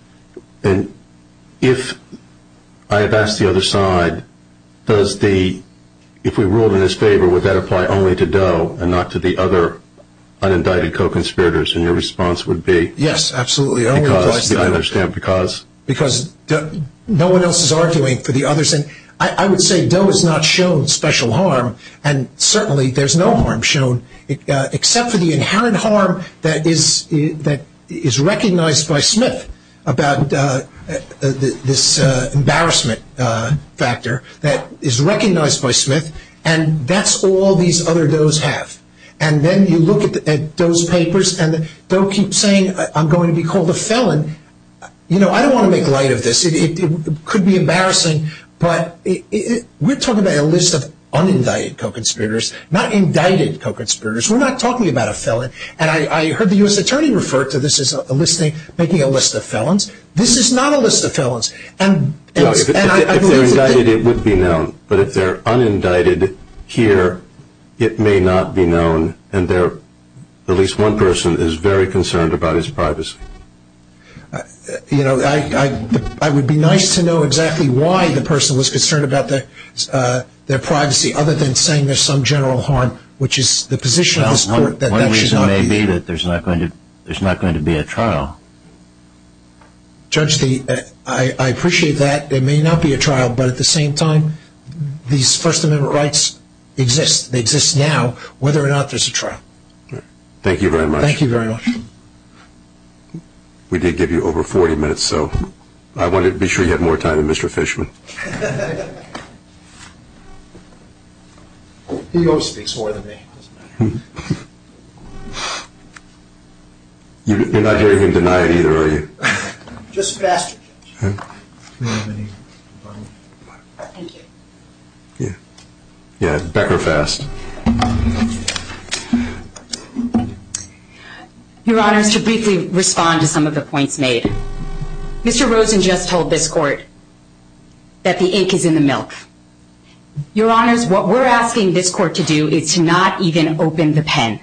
if I had asked the other side, if we ruled in his favor, would that apply only to Doe and not to the other unindicted co-conspirators? And your response would be? Yes, absolutely. I understand, because? Because no one else is arguing for the others. And I would say Doe has not shown special harm, and certainly there's no harm shown, except for the inherent harm that is recognized by Smith about this embarrassment factor that is recognized by Smith, and that's all these other Does have. And then you look at those papers, and Doe keeps saying, I'm going to be called a felon. You know, I don't want to make light of this. It could be embarrassing, but we're talking about a list of unindicted co-conspirators, not indicted co-conspirators. We're not talking about a felon, and I heard the U.S. Attorney refer to this as making a list of felons. This is not a list of felons. If they're indicted, it would be known, but if they're unindicted here, it may not be known, and at least one person is very concerned about his privacy. You know, it would be nice to know exactly why the person was concerned about their privacy, other than saying there's some general harm, which is the position of the court that that should not be used. One reason may be that there's not going to be a trial. Judge, I appreciate that. There may not be a trial, but at the same time, these First Amendment rights exist. They exist now, whether or not there's a trial. Thank you very much. Thank you very much. We did give you over 40 minutes, so I wanted to be sure you had more time than Mr. Fishman. He owes me more than me. You're not hearing him denied either, are you? Just faster. Huh? Your Honor, to briefly respond to some of the points made. Mr. Rosen just told this court that the ink is in the milk. Your Honors, what we're asking this court to do is to not even open the pen.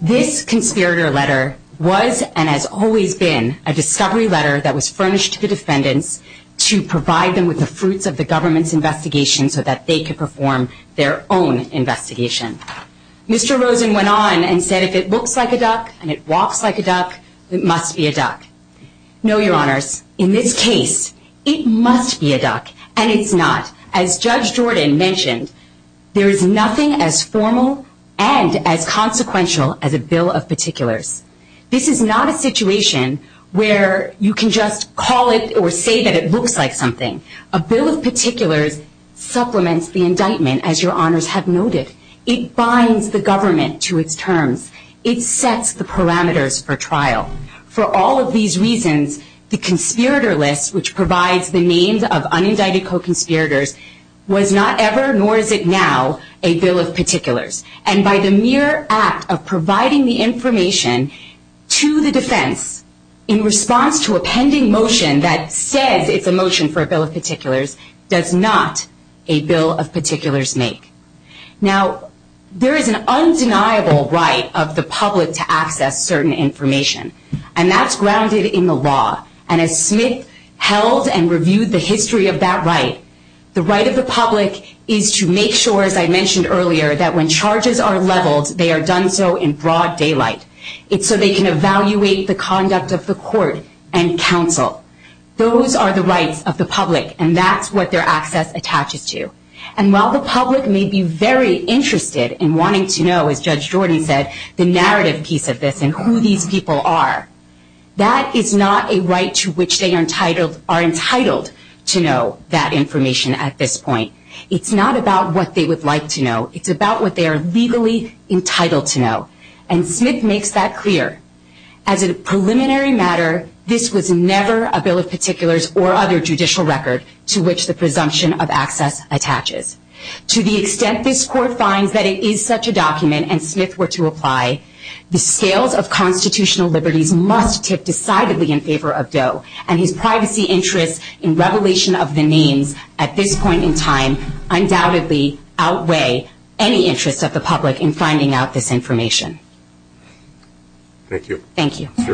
This conspirator letter was and has always been a discovery letter that was furnished to the defendant to provide them with the fruits of the government's investigation so that they could perform their own investigation. Mr. Rosen went on and said if it looks like a duck and it walks like a duck, it must be a duck. No, Your Honors. In this case, it must be a duck, and it's not. As Judge Jordan mentioned, there is nothing as formal and as consequential as a bill of particulars. This is not a situation where you can just call it or say that it looks like something. A bill of particulars supplements the indictment, as Your Honors have noticed. It binds the government to its terms. It sets the parameters for trial. For all of these reasons, the conspirator list, which provides the names of unindicted co-conspirators, was not ever, nor is it now, a bill of particulars. And by the mere act of providing the information to the defense in response to a pending motion that said it's a motion for a bill of particulars does not a bill of particulars make. Now, there is an undeniable right of the public to access certain information, and that's grounded in the law. And as Smith held and reviewed the history of that right, the right of the public is to make sure, as I mentioned earlier, that when charges are leveled, they are done so in broad daylight. It's so they can evaluate the conduct of the court and counsel. Those are the rights of the public, and that's what their access attaches to. And while the public may be very interested in wanting to know, as Judge Jordan said, the narrative piece of this and who these people are, that is not a right to which they are entitled to know that information at this point. It's not about what they would like to know. It's about what they are legally entitled to know. And Smith makes that clear. As a preliminary matter, this was never a bill of particulars or other judicial record to which the presumption of access attaches. To the extent this court finds that it is such a document, and Smith were to apply, the scales of constitutional liberty must tip decidedly in favor of Doe, and his privacy interests in revelation of the names at this point in time undoubtedly outweigh any interest of the public in finding out this information. Thank you. Thank you. One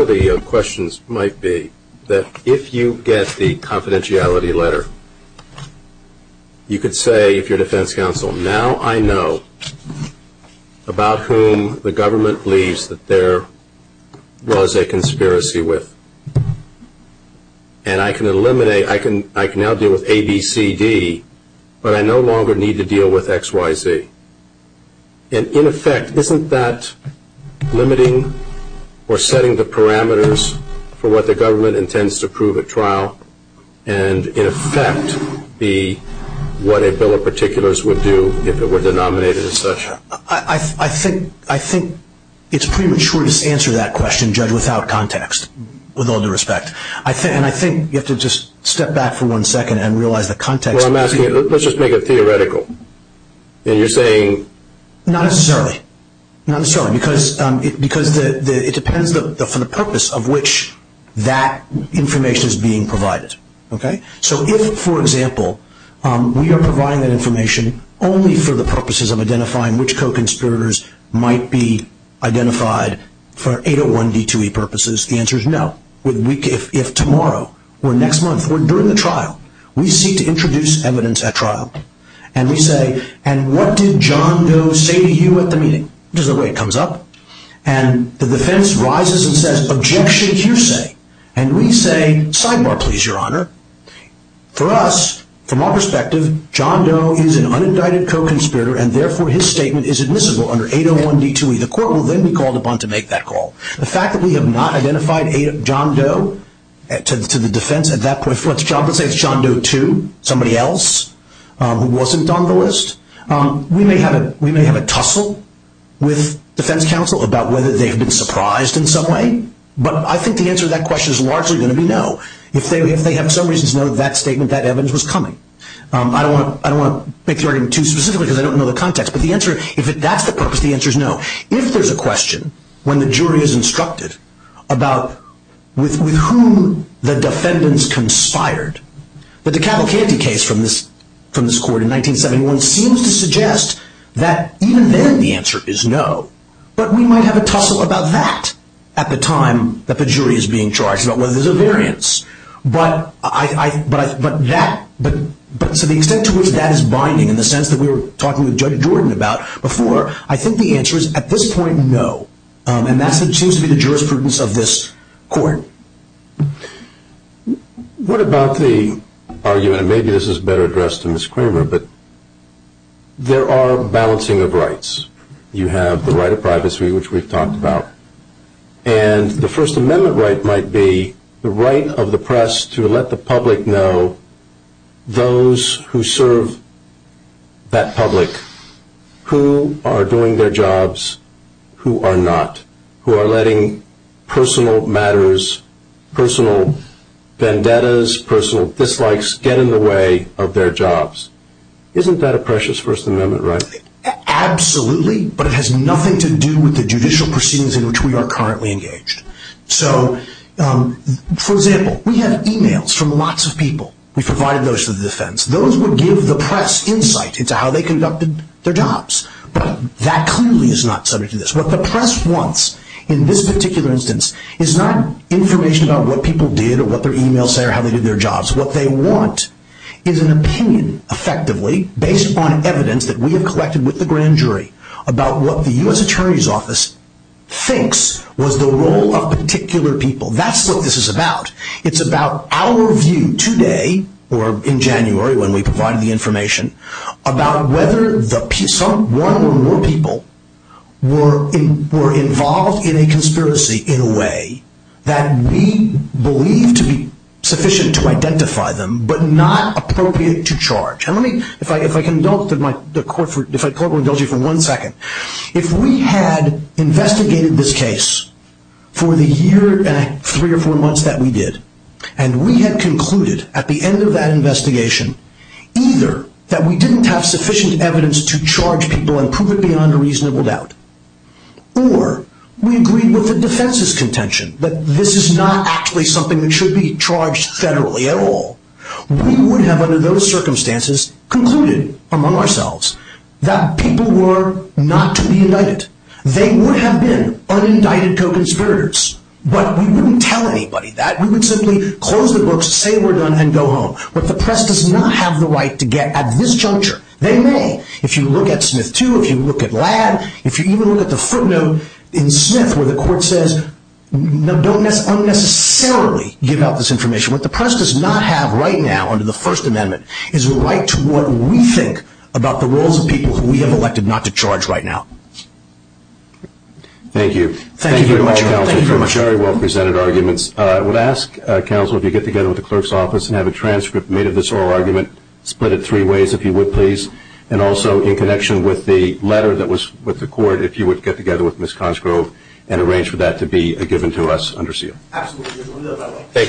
of the questions might be that if you get the confidentiality letter, you could say to your defense counsel, now I know about whom the government believes that there was a conspiracy with. And I can eliminate, I can now deal with A, B, C, D, but I no longer need to deal with X, Y, Z. And in effect, isn't that limiting or setting the parameters for what the government intends to prove at trial and in effect be what a bill of particulars would do if it were denominated and such? I think it's premature to answer that question, Judge, without context, with all due respect. And I think you have to just step back for one second and realize the context. Let's just make it theoretical. And you're saying? Not necessarily. Because it depends on the purpose of which that information is being provided. So if, for example, we are providing that information only for the purposes of identifying which co-conspirators might be identified for 801B2E purposes, the answer is no. If tomorrow or next month or during the trial we seek to introduce evidence at trial and we say, and what did John Doe say to you at the meeting? This is the way it comes up. And the defense rises and says, objection, you say. And we say, sidebar please, Your Honor. For us, from our perspective, John Doe is an unidentified co-conspirator and therefore his statement is admissible under 801B2E. The court will then be called upon to make that call. The fact that we have not identified John Doe to the defense at that point, let's say it's John Doe to somebody else who wasn't on the list, we may have a tussle with defense counsel about whether they've been surprised in some way. But I think the answer to that question is largely going to be no. If they have some reason to know that statement, that evidence was coming. I don't want to make the argument too specific because I don't know the context. But the answer, if that's the purpose, the answer is no. If there's a question when the jury is instructed about with whom the defendants conspired, but the Cavalcanti case from this court in 1971 seems to suggest that even then the answer is no. But we might have a tussle about that at the time that the jury is being charged, about whether there's a variance. But to the extent to which that is binding in the sense that we were talking with Judge Jordan about before, I think the answer is at this point no. And that's a change to the jurisprudence of this court. What about the argument, and maybe this is better addressed to Ms. Kramer, but there are balancing of rights. You have the right of privacy, which we've talked about. And the First Amendment right might be the right of the press to let the public know those who serve that public who are doing their jobs, who are not, who are letting personal matters, personal vendettas, personal dislikes get in the way of their jobs. Isn't that a precious First Amendment right? Absolutely, but it has nothing to do with the judicial proceedings in which we are currently engaged. So, for example, we have e-mails from lots of people. We've provided those to the defense. Those would give the press insight into how they conducted their jobs. But that clearly is not subject to this. What the press wants in this particular instance is not information about what people did or what their e-mails say or how they did their jobs. What they want is an opinion, effectively, based on evidence that we have collected with the grand jury about what the U.S. Attorney's Office thinks was the role of particular people. That's what this is about. It's about our view today, or in January when we provided the information, about whether one or more people were involved in a conspiracy in a way that we believe to be sufficient to identify them but not appropriate to charge. And let me, if I indulge you for one second, if we had investigated this case for the year and three or four months that we did, and we had concluded at the end of that investigation either that we didn't have sufficient evidence to charge people and prove it beyond a reasonable doubt, or we agreed with the defense's contention that this is not actually something that should be charged federally at all, we would have, under those circumstances, concluded among ourselves that people were not to be indicted. They would have been unindicted co-conspirators. But we wouldn't tell anybody that. We would simply close the book, say we're done, and go home. But the press does not have the right to get at this juncture. They may. If you look at Smith too, if you look at Ladd, if you even look at the footnote in Smith where the court says don't unnecessarily give out this information. What the press does not have right now under the First Amendment is a right to what we think about the roles of people who we have elected not to charge right now. Thank you. Thank you very much, Counsel. Very well presented arguments. I would ask, Counsel, if you could get together with the clerk's office and have a transcript made of this oral argument, split it three ways if you would please, and also in connection with the letter that was with the court, if you would get together with Ms. Consgrove and arrange for that to be given to us under seal. Absolutely.